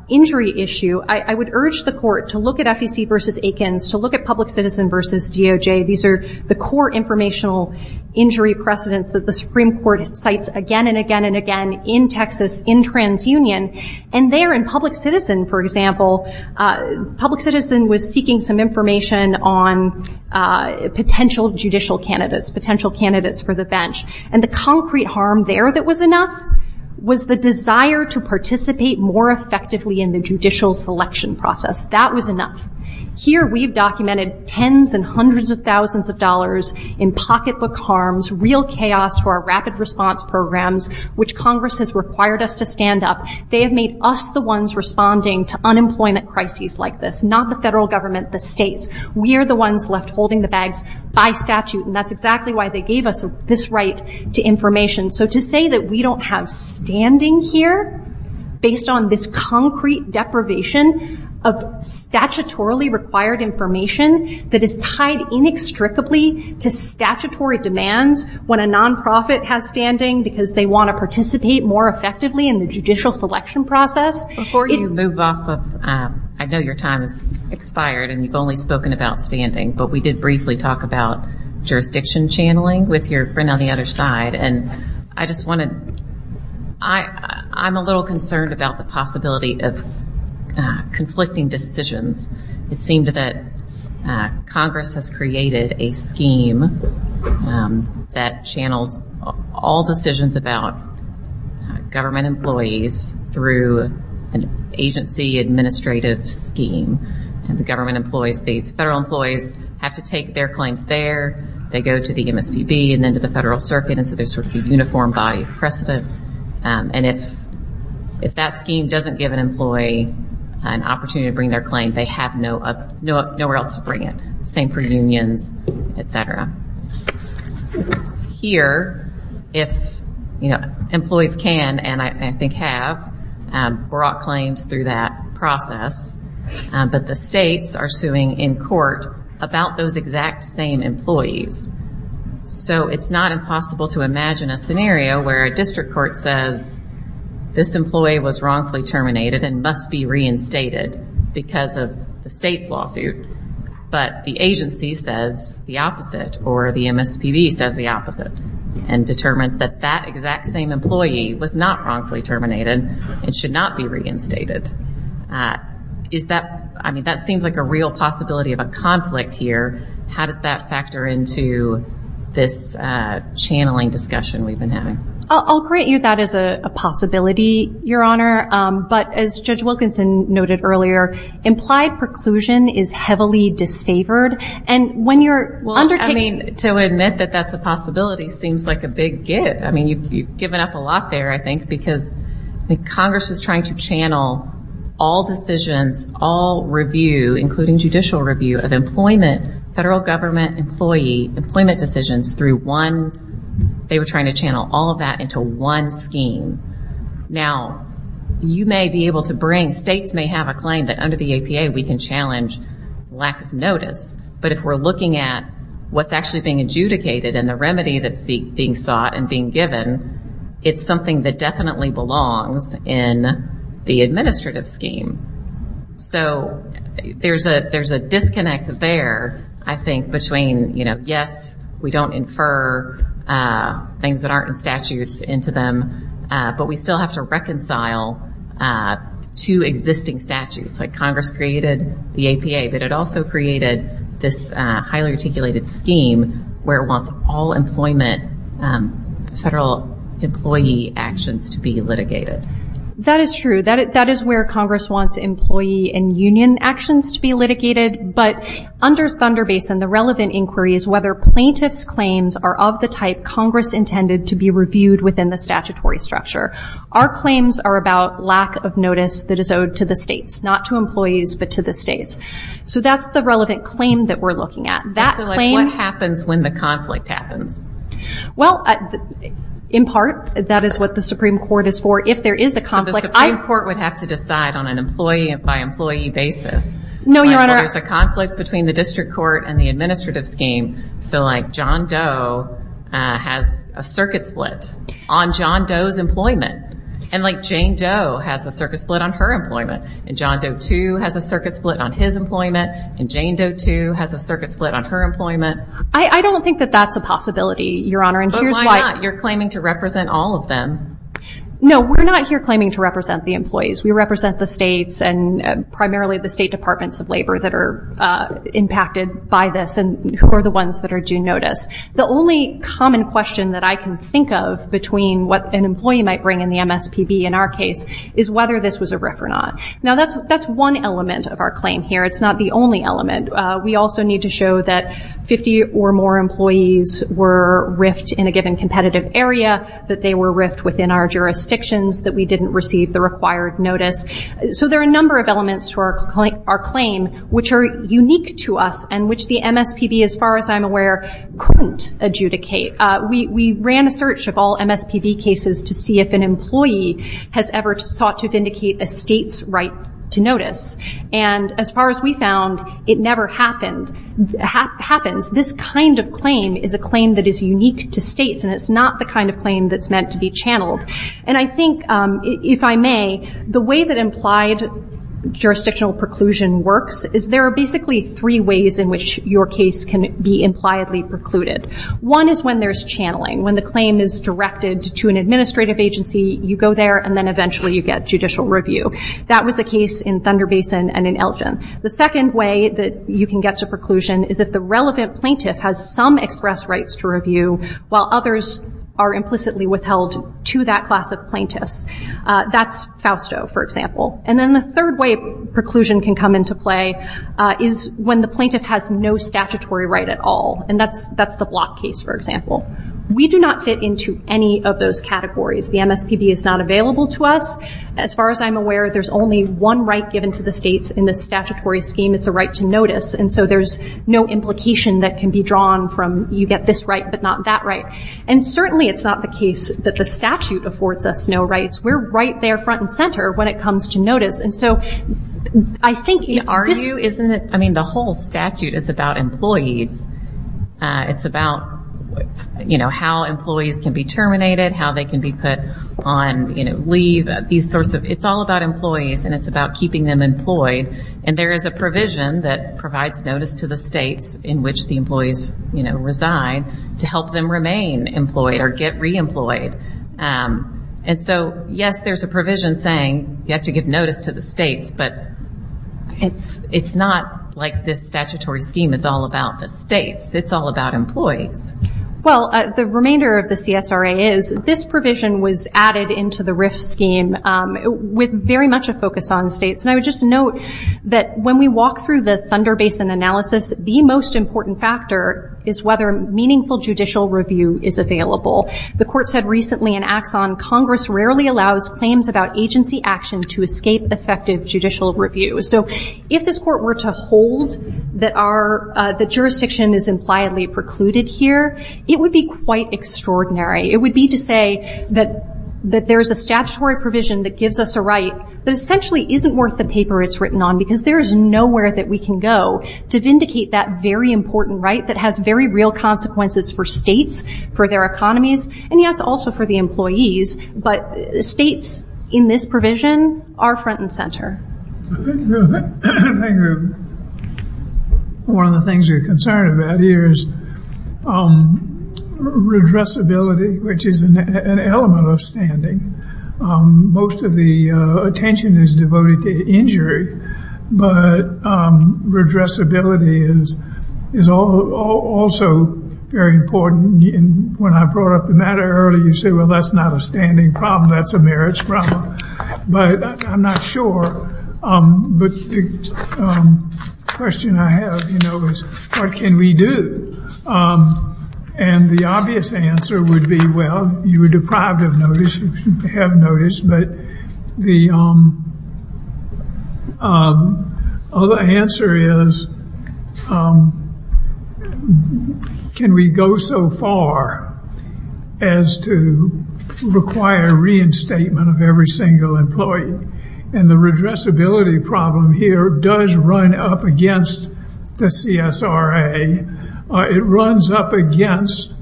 injury issue. I would urge the court to look at FEC versus Aikens, to look at Public Citizen versus DOJ. These are the core informational injury precedents that the Supreme Court cites again and again and again in Texas in TransUnion. And there in Public Citizen, for example, Public Citizen was seeking some information on potential judicial candidates, potential candidates for the bench. And the concrete harm there that was enough was the desire to participate more effectively in the judicial selection process. That was enough. Here we've documented tens and hundreds of thousands of dollars in pocketbook harms, real chaos for our rapid response programs, which Congress has required us to stand up. They have made us the ones responding to unemployment crises like this, not the federal government, the state. We are the ones left holding the bags by statute. And that's exactly why they gave us this right to information. So to say that we don't have standing here based on this concrete deprivation of statutorily required information that is tied inextricably to statutory demands when a nonprofit has standing because they want to participate more effectively in the judicial selection process. Before you move off, I know your time has expired and you've only spoken about standing, but we did briefly talk about jurisdiction channeling with your friend on the other side. And I'm a little concerned about the possibility of conflicting decisions. It seems that Congress has created a scheme that channels all decisions about government employees through an agency administrative scheme. And if that scheme doesn't give an employee an opportunity to bring their claim, they have nowhere else to bring it. Same for unions, etc. Here, if employees can, and I think have, brought claims through that process, but the states are suing in court about those exact same employees. So it's not impossible to imagine a scenario where a district court says this employee was wrongfully terminated and must be reinstated because of a state lawsuit. But the agency says the opposite, or the MSPB says the opposite, and determines that that exact same employee was not wrongfully terminated and should not be reinstated. Is that, I mean, that seems like a real possibility of a conflict here. How does that factor into this channeling discussion we've been having? I'll grant you that as a possibility, Your Honor. But as Judge Wilkinson noted earlier, implied preclusion is heavily disfavored. And when you're undertaking... Well, I mean, to admit that that's a possibility seems like a big give. I mean, you've given up a lot there, I think, because Congress is trying to channel all decisions, all review, including judicial review of employment, federal government employee employment decisions through one... They were trying to channel all of that into one scheme. Now, you may be able to bring... And states may have a claim that under the ACA we can challenge lack of notice. But if we're looking at what's actually being adjudicated and the remedy that's being sought and being given, it's something that definitely belongs in the administrative scheme. So there's a disconnect there, I think, between, you know, yes, we don't infer things that aren't in statutes into them, but we still have to reconcile two existing statutes. Like, Congress created the APA, but it also created this highly articulated scheme where it wants all employment federal employee actions to be litigated. That is true. That is where Congress wants employee and union actions to be litigated. But under Thunder Basin, the relevant inquiry is whether plaintiff's claims are of the type Congress intended to be reviewed within the statutory structure. Our claims are about lack of notice that is owed to the states, not to employees, but to the states. So that's the relevant claim that we're looking at. That claim... So, like, what happens when the conflict happens? Well, in part, that is what the Supreme Court is for. If there is a conflict... So the Supreme Court would have to decide on an employee-by-employee basis? No, Your Honor. There's a conflict between the district court and the administrative scheme. So, like, John Doe has a circuit split on John Doe's employment. And, like, Jane Doe has a circuit split on her employment. And John Doe, too, has a circuit split on his employment. And Jane Doe, too, has a circuit split on her employment. I don't think that that's a possibility, Your Honor. But why not? You're claiming to represent all of them. No, we're not here claiming to represent the employees. We represent the states and primarily the state departments of labor that are impacted by this and who are the ones that are due notice. The only common question that I can think of between what an employee might bring in the MSPB in our case is whether this was a rift or not. Now, that's one element of our claim here. It's not the only element. We also need to show that 50 or more employees were rift in a given competitive area, that they were rift within our jurisdictions, that we didn't receive the required notice. So there are a number of elements to our claim which are unique to us and which the MSPB, as far as I'm aware, couldn't adjudicate. We ran a search of all MSPB cases to see if an employee has ever sought to vindicate a state's right to notice. And as far as we found, it never happened. This kind of claim is a claim that is unique to states, and it's not the kind of claim that's meant to be channeled. And I think, if I may, the way that implied jurisdictional preclusion works is there are basically three ways in which your case can be impliedly precluded. One is when there's channeling. When the claim is directed to an administrative agency, you go there and then eventually you get judicial review. That was the case in Thunder Basin and in Elgin. The second way that you can get to preclusion is if the relevant plaintiff has some express rights to review while others are implicitly withheld to that class of plaintiff. That's Fausto, for example. And then the third way preclusion can come into play is when the plaintiff has no statutory right at all. And that's the Block case, for example. We do not fit into any of those categories. The MSPB is not available to us. As far as I'm aware, there's only one right given to the states in the statutory scheme. It's a right to notice. And so there's no implication that can be drawn from you get this right but not that right. And certainly it's not the case that the statute affords us no rights. We're right there front and center when it comes to notice. And so I think you are... I mean, the whole statute is about employees. It's about, you know, how employees can be terminated, how they can be put on, you know, leave, these sorts of... It's all about employees and it's about keeping them employed. And there is a provision that provides notice to the states in which the employees, you know, resign to help them remain employed or get re-employed. And so, yes, there's a provision saying you have to give notice to the states, but it's not like this statutory scheme is all about the states. It's all about employees. Well, the remainder of the CSRA is this provision was added into the RIFT scheme with very much a focus on states. And I would just note that when we walk through the Thunder Basin analysis, the most important factor is whether meaningful judicial review is available. The court said recently in Axon, Congress rarely allows claims about agency action to escape effective judicial review. So if this court were to hold that jurisdiction is impliedly precluded here, it would be quite extraordinary. It would be to say that there's a statutory provision that gives us a right that essentially isn't worth the paper it's written on because there's nowhere that we can go to vindicate that very important right that has very real consequences for states, for their economies, and, yes, also for the employees. But states in this provision are front and center. One of the things we're concerned about here is redressability, which is an element of standing. Most of the attention is devoted to injury, but redressability is also very important. And when I brought up the matter earlier, you said, well, that's not a standing problem. That's a merits problem. But I'm not sure. But the question I have, you know, is what can we do? And the obvious answer would be, well, you were deprived of notice. You have notice. But the answer is, can we go so far as to require reinstatement of every single employee? And the redressability problem here does run up against the CSRA. It runs up against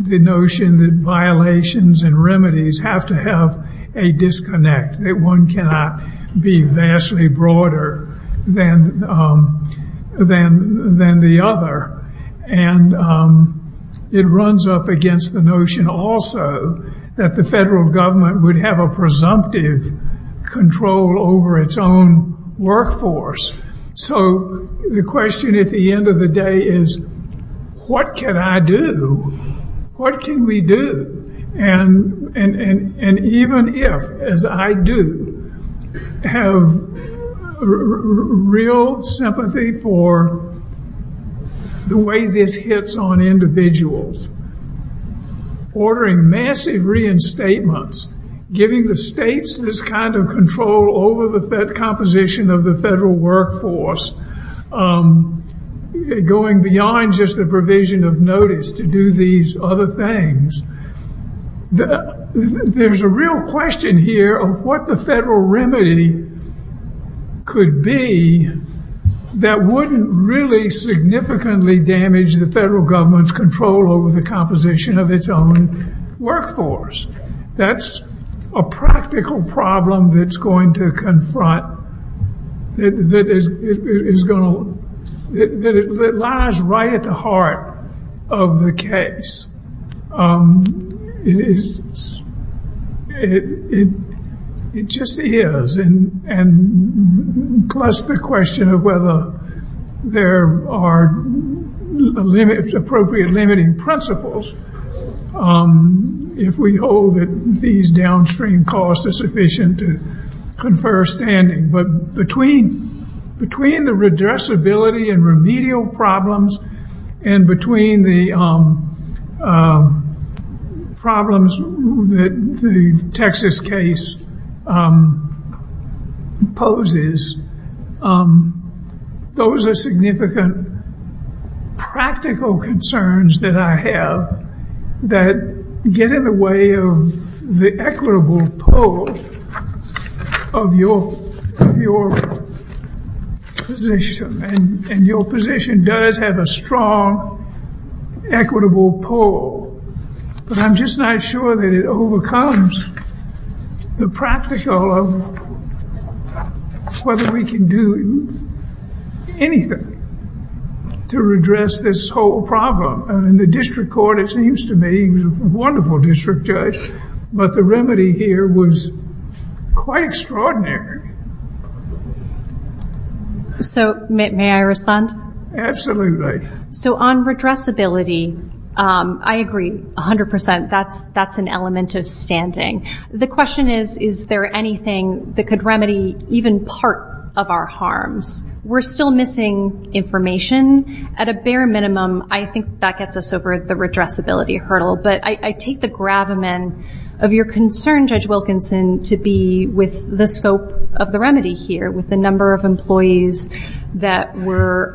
the notion that violations and remedies have to have a disconnect, that one cannot be vastly broader than the other. And it runs up against the notion also that the federal government would have a presumptive control over its own workforce. So the question at the end of the day is, what can I do? What can we do? And even if, as I do, have real sympathy for the way this hits on individuals, ordering massive reinstatements, giving the states this kind of control over the composition of the federal workforce, going beyond just the provision of notice to do these other things, there's a real question here of what the federal remedy could be that wouldn't really significantly damage the federal government's control over the composition of its own workforce. That's a practical problem that's going to confront, that lies right at the heart of the case. It just is. Plus the question of whether there are appropriate limiting principles, if we hold that these downstream costs are sufficient to confer standing. But between the redressability and remedial problems and between the problems that the Texas case poses, those are significant practical concerns that I have that get in the way of the equitable pull of your position. And your position does have a strong equitable pull. But I'm just not sure that it overcomes the practical of whether we can do anything to redress this whole problem. And the district court, it seems to me, wonderful district judge, but the remedy here was quite extraordinary. So, may I respond? Absolutely. So, on redressability, I agree 100%. That's an element of standing. The question is, is there anything that could remedy even part of our harms? We're still missing information. At a bare minimum, I think that gets us over the redressability hurdle. But I take the gravamen of your concern, Judge Wilkinson, to be with the scope of the remedy here, with the number of employees that were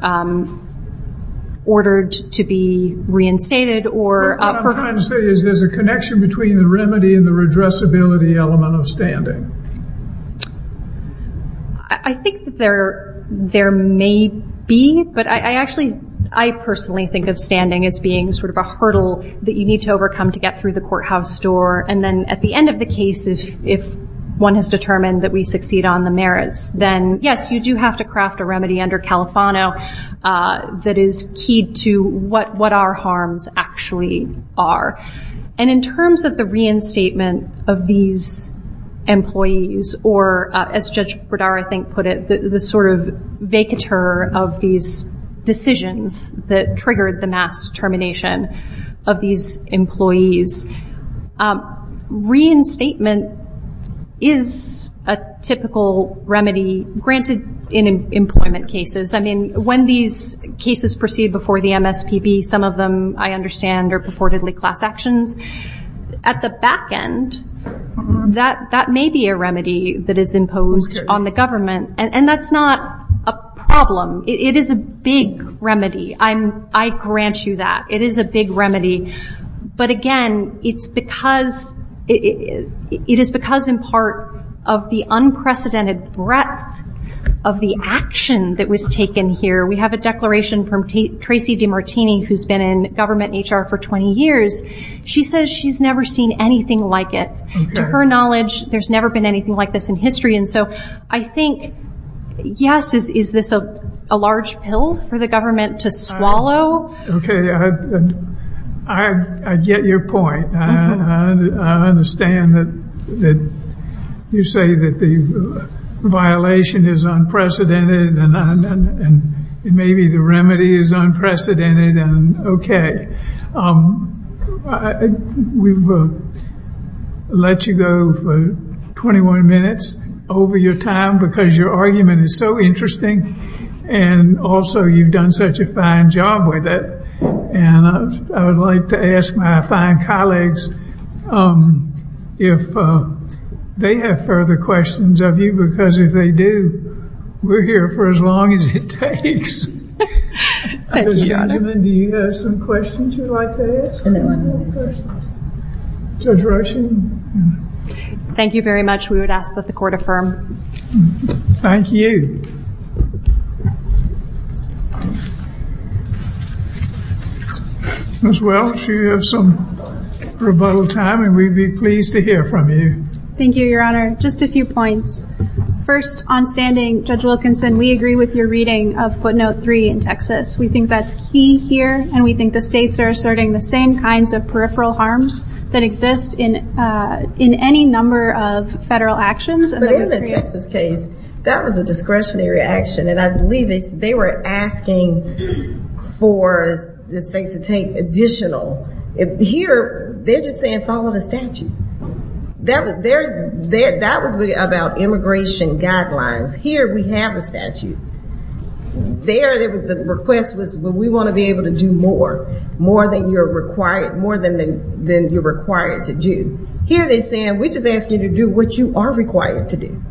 ordered to be reinstated. What I'm trying to say is there's a connection between the remedy and the redressability element of standing. I think that there may be. But I personally think of standing as being sort of a hurdle that you need to overcome to get through the courthouse door. And then at the end of the case, if one has determined that we succeed on the merits, then, yes, you do have to craft a remedy under Califano that is key to what our harms actually are. And in terms of the reinstatement of these employees, or, as Judge Bredar, I think, put it, the sort of vacatur of these decisions that triggered the mass termination of these employees, reinstatement is a typical remedy granted in employment cases. I mean, when these cases proceed before the MSPB, some of them, I understand, are purportedly class actions. At the back end, that may be a remedy that is imposed on the government. And that's not a problem. It is a big remedy. I grant you that. It is a big remedy. But, again, it's because it is because, in part, of the unprecedented breadth of the action that was taken here. We have a declaration from Tracy DiMartini, who's been in government and HR for 20 years. She says she's never seen anything like it. To her knowledge, there's never been anything like this in history. And so I think, yes, is this a large pill for the government to swallow? Okay. I get your point. I understand that you say that the violation is unprecedented and maybe the remedy is unprecedented. We will let you go for 21 minutes over your time because your argument is so interesting. And also, you've done such a fine job with it. And I would like to ask my fine colleagues if they have further questions of you. Because if they do, we're here for as long as it takes. Thank you. Judge Benjamin, do you have some questions you'd like to ask? No. Judge Rushing? Thank you very much. We would ask that the court affirm. Thank you. Ms. Welch, you have some rebuttal time, and we'd be pleased to hear from you. Thank you, Your Honor. Just a few points. First, on standing, Judge Wilkinson, we agree with your reading of Quote Note 3 in Texas. We think that's key here, and we think the states are asserting the same kinds of peripheral harms that exist in any number of federal actions. That was a discretionary action, and I believe they were asking for the state to take additional. Here, they're just saying it's all in the statute. That was about immigration guidelines. Here, we have a statute. There, it was a request that we want to be able to do more, more than you're required to do. Here, they're saying we just ask you to do what you are required to do.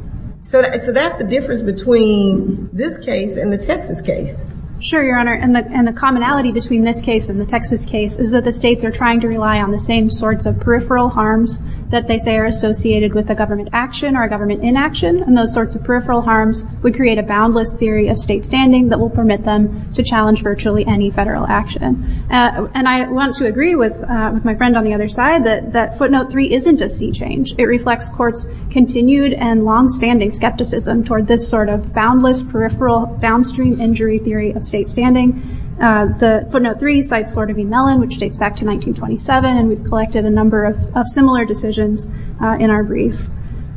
So that's the difference between this case and the Texas case. Sure, Your Honor, and the commonality between this case and the Texas case is that the states are trying to rely on the same sorts of peripheral harms that they say are associated with a government action or a government inaction, and those sorts of peripheral harms would create a boundless theory of state standing that will permit them to challenge virtually any federal action. And I want to agree with my friend on the other side that Footnote 3 isn't a state change. It reflects courts' continued and longstanding skepticism toward this sort of boundless, peripheral, downstream injury theory of state standing. The Footnote 3 cites Florida v. Mellon, which dates back to 1927, and we've collected a number of similar decisions in our brief.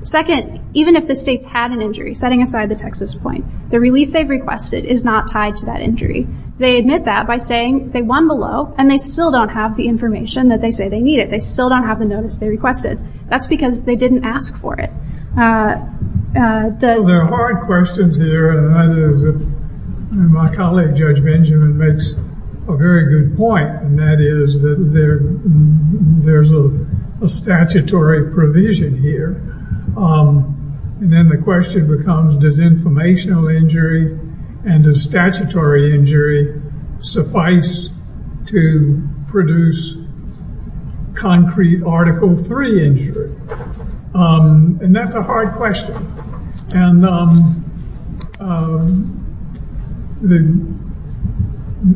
Second, even if the states had an injury, setting aside the Texas point, the release they've requested is not tied to that injury. They admit that by saying they won below, and they still don't have the information that they say they need. They still don't have the notice they requested. That's because they didn't ask for it. The hard question here, and my colleague Judge Benjamin makes a very good point, and that is that there's a statutory provision here. And then the question becomes, does informational injury and does statutory injury suffice to produce concrete Article 3 injury? And that's a hard question. And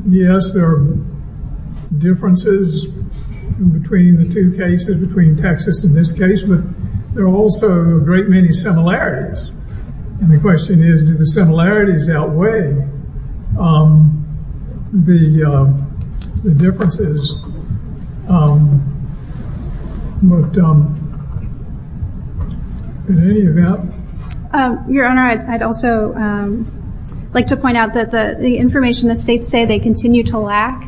yes, there are differences between the two cases, between Texas and this case, but there are also a great many similarities. And the question is, do the similarities outweigh the differences? Your Honor, I'd also like to point out that the information the states say they continue to lack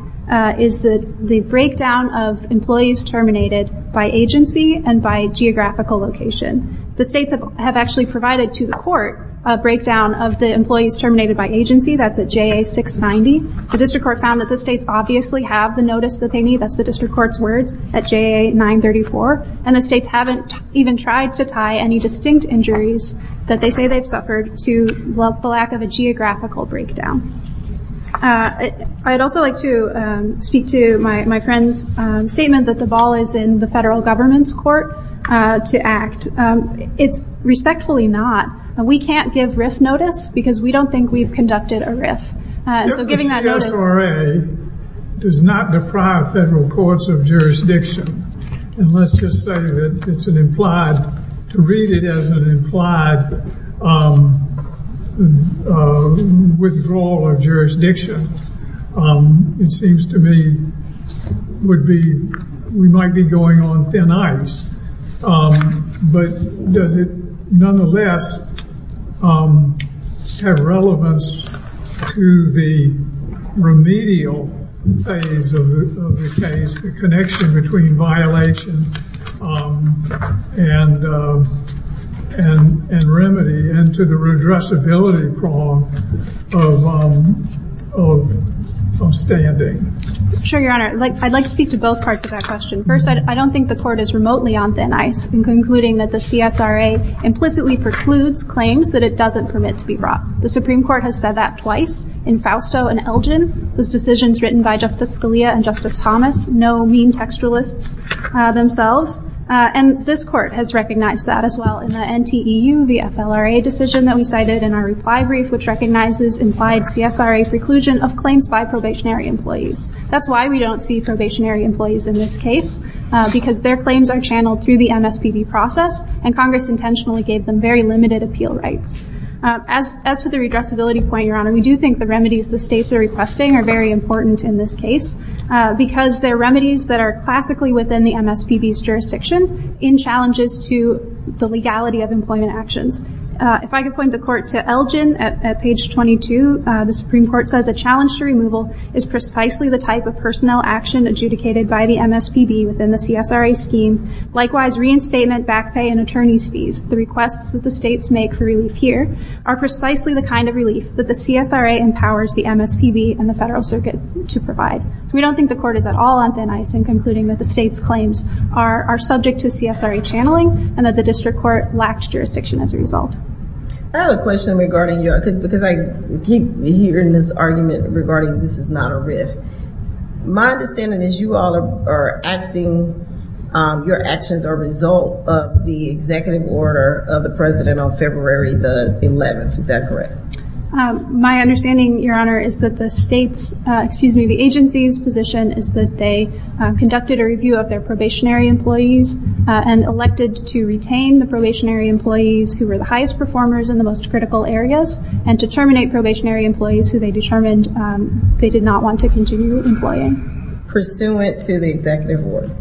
is the breakdown of employees terminated by agency and by geographical location. The states have actually provided to the court a breakdown of the employees terminated by agency. That's at J.A. 690. The district court found that the states obviously have the notice that they need. That's the district court's word at J.A. 934. And the states haven't even tried to tie any distinct injuries that they say they suffered to the lack of a geographical breakdown. I'd also like to speak to my friend's statement that the ball is in the federal government's court to act. It's respectfully not. We can't give risk notice because we don't think we've conducted a risk. The SRA does not deprive federal courts of jurisdiction. And let's just say that it's an implied, to read it as an implied withdrawal of jurisdiction. It seems to me we might be going on thin ice. But does it nonetheless have relevance to the remedial phase of the case, the connection between violation and remedy and to the addressability of standing? Sure, Your Honor. I'd like to speak to both parts of that question. First, I don't think the court is remotely on thin ice in concluding that the CSRA implicitly precludes claims that it doesn't permit to be brought. The Supreme Court has said that twice in Fausto and Elgin. Those decisions written by Justice Scalia and Justice Thomas know mean textualists themselves. And this court has recognized that as well in the NTEU, the FLRA decision that we cited in our reply brief, which recognizes implied CSRA seclusion of claims by probationary employees. That's why we don't see probationary employees in this case. Because their claims are channeled through the MSPB process. And Congress intentionally gave them very limited appeal rights. As for the redressability point, Your Honor, we do think the remedies the states are requesting are very important in this case. Because they're remedies that are classically within the MSPB's jurisdiction in challenges to the legality of employment actions. If I could point the court to Elgin at page 22. The Supreme Court said the challenge to removal is precisely the type of personnel action adjudicated by the MSPB within the CSRA scheme. Likewise, reinstatement, back pay, and attorney's fees. The requests that the states make for relief here are precisely the kind of relief that the CSRA empowers the MSPB and the Federal Circuit to provide. We don't think the court is at all on thin ice in concluding that the states' claims are subject to CSRA channeling. And that the district court lacks jurisdiction as a result. I have a question regarding your, because I keep hearing this argument regarding this is not a risk. My understanding is you all are asking, your actions are a result of the executive order of the President on February the 11th. Is that correct? My understanding, Your Honor, is that the states, excuse me, the agency's position is that they conducted a review of their probationary employees. And elected to retain the probationary employees who were the highest performers in the most critical areas. And to terminate probationary employees who they determined they did not want to continue employing. Pursuant to the executive order.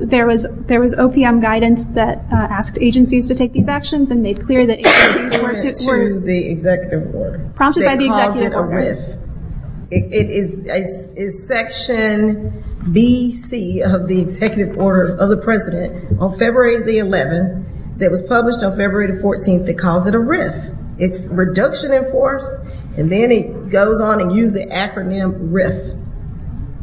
There was, there was OPM guidance that asked agencies to take these actions. And they cleared the agency for it. Pursuant to the executive order. Prompted by the executive order. It is section B.C. of the executive order of the President on February the 11th. That was published on February the 14th. It calls it a risk. It's reduction in force. And then it goes on to use the acronym risk.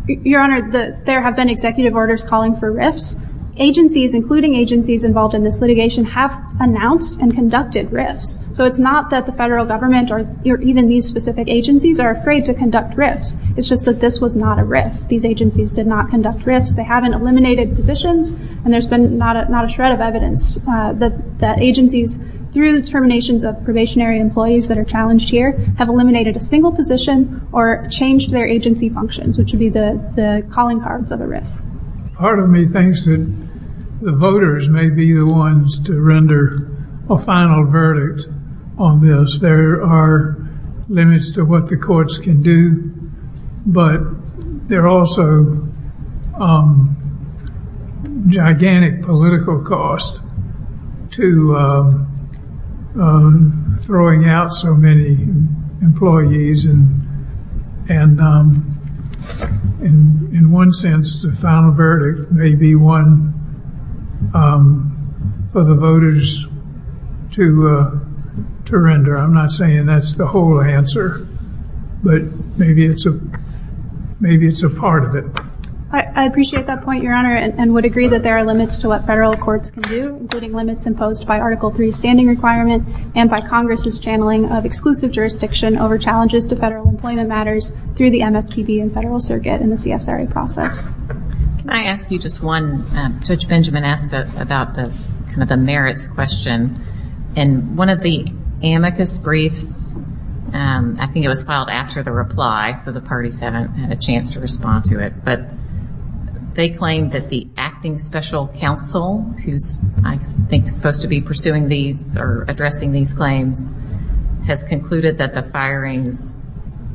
Your Honor, there have been executive orders calling for risks. Agencies, including agencies involved in this litigation, have announced and conducted risks. So it's not that the federal government or even these specific agencies are afraid to conduct risks. It's just that this was not a risk. These agencies did not conduct risks. They haven't eliminated positions. And there's been not a shred of evidence that agencies, through the terminations of probationary employees that are challenged here, have eliminated a single position or changed their agency functions. Which would be the calling cards of a risk. Part of me thinks that the voters may be the ones to render a final verdict on this. There are limits to what the courts can do. But there are also gigantic political costs to throwing out so many employees. And in one sense, the final verdict may be one for the voters to render. I'm not saying that's the whole answer. But maybe it's a part of it. I appreciate that point, Your Honor. And would agree that there are limits to what federal courts can do, including limits imposed by Article III standing requirements and by Congress's channeling of exclusive jurisdiction over challenges to federal employment matters through the MSPB and federal circuit and the CFRA process. Can I ask you just one, Judge Benjamin asked us about the merits question. In one of the amicus briefs, I think it was filed after the reply, so the parties haven't had a chance to respond to it. They claim that the acting special counsel, who I think is supposed to be pursuing these or addressing these claims, has concluded that the firings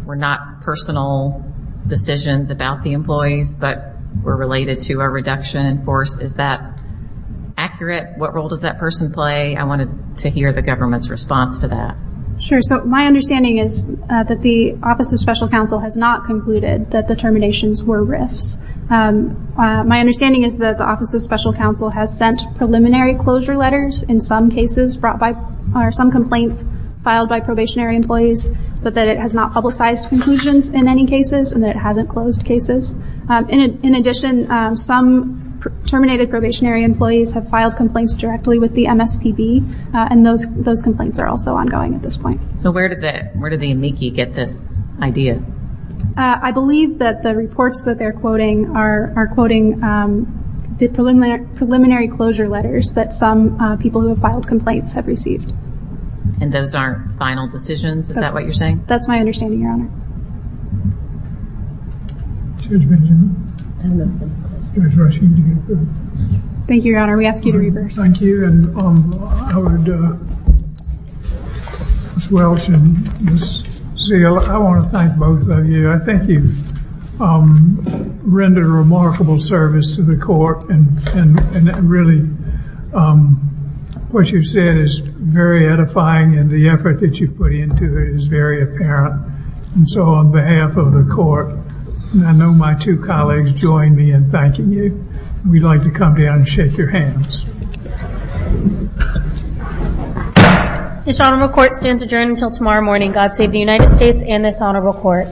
were not personal decisions about the employees, but were related to a reduction in force. Is that accurate? What role does that person play? I wanted to hear the government's response to that. Sure. So my understanding is that the Office of Special Counsel has not concluded that the terminations were risks. My understanding is that the Office of Special Counsel has sent preliminary closure letters in some cases brought by or some complaints filed by probationary employees, but that it has not publicized conclusions in any cases and that it hasn't closed cases. In addition, some terminated probationary employees have filed complaints directly with the MSPB and those complaints are also ongoing at this point. So where did the amici get this idea? I believe that the reports that they're quoting are quoting the preliminary closure letters that some people who have filed complaints have received. And those aren't final decisions? Is that what you're saying? That's my understanding, Your Honor. Thank you, Your Honor. We ask you to reverse. Thank you. Ms. Welch and Ms. Zeal, I want to thank both of you. I think you've rendered a remarkable service to the court and really what you've said is very edifying and the effort that you've put into it is very apparent. So on behalf of the court, I know my two colleagues join me in thanking you. We'd like to come down and shake your hands. This honorable court stands adjourned until tomorrow morning. God save the United States and this honorable court.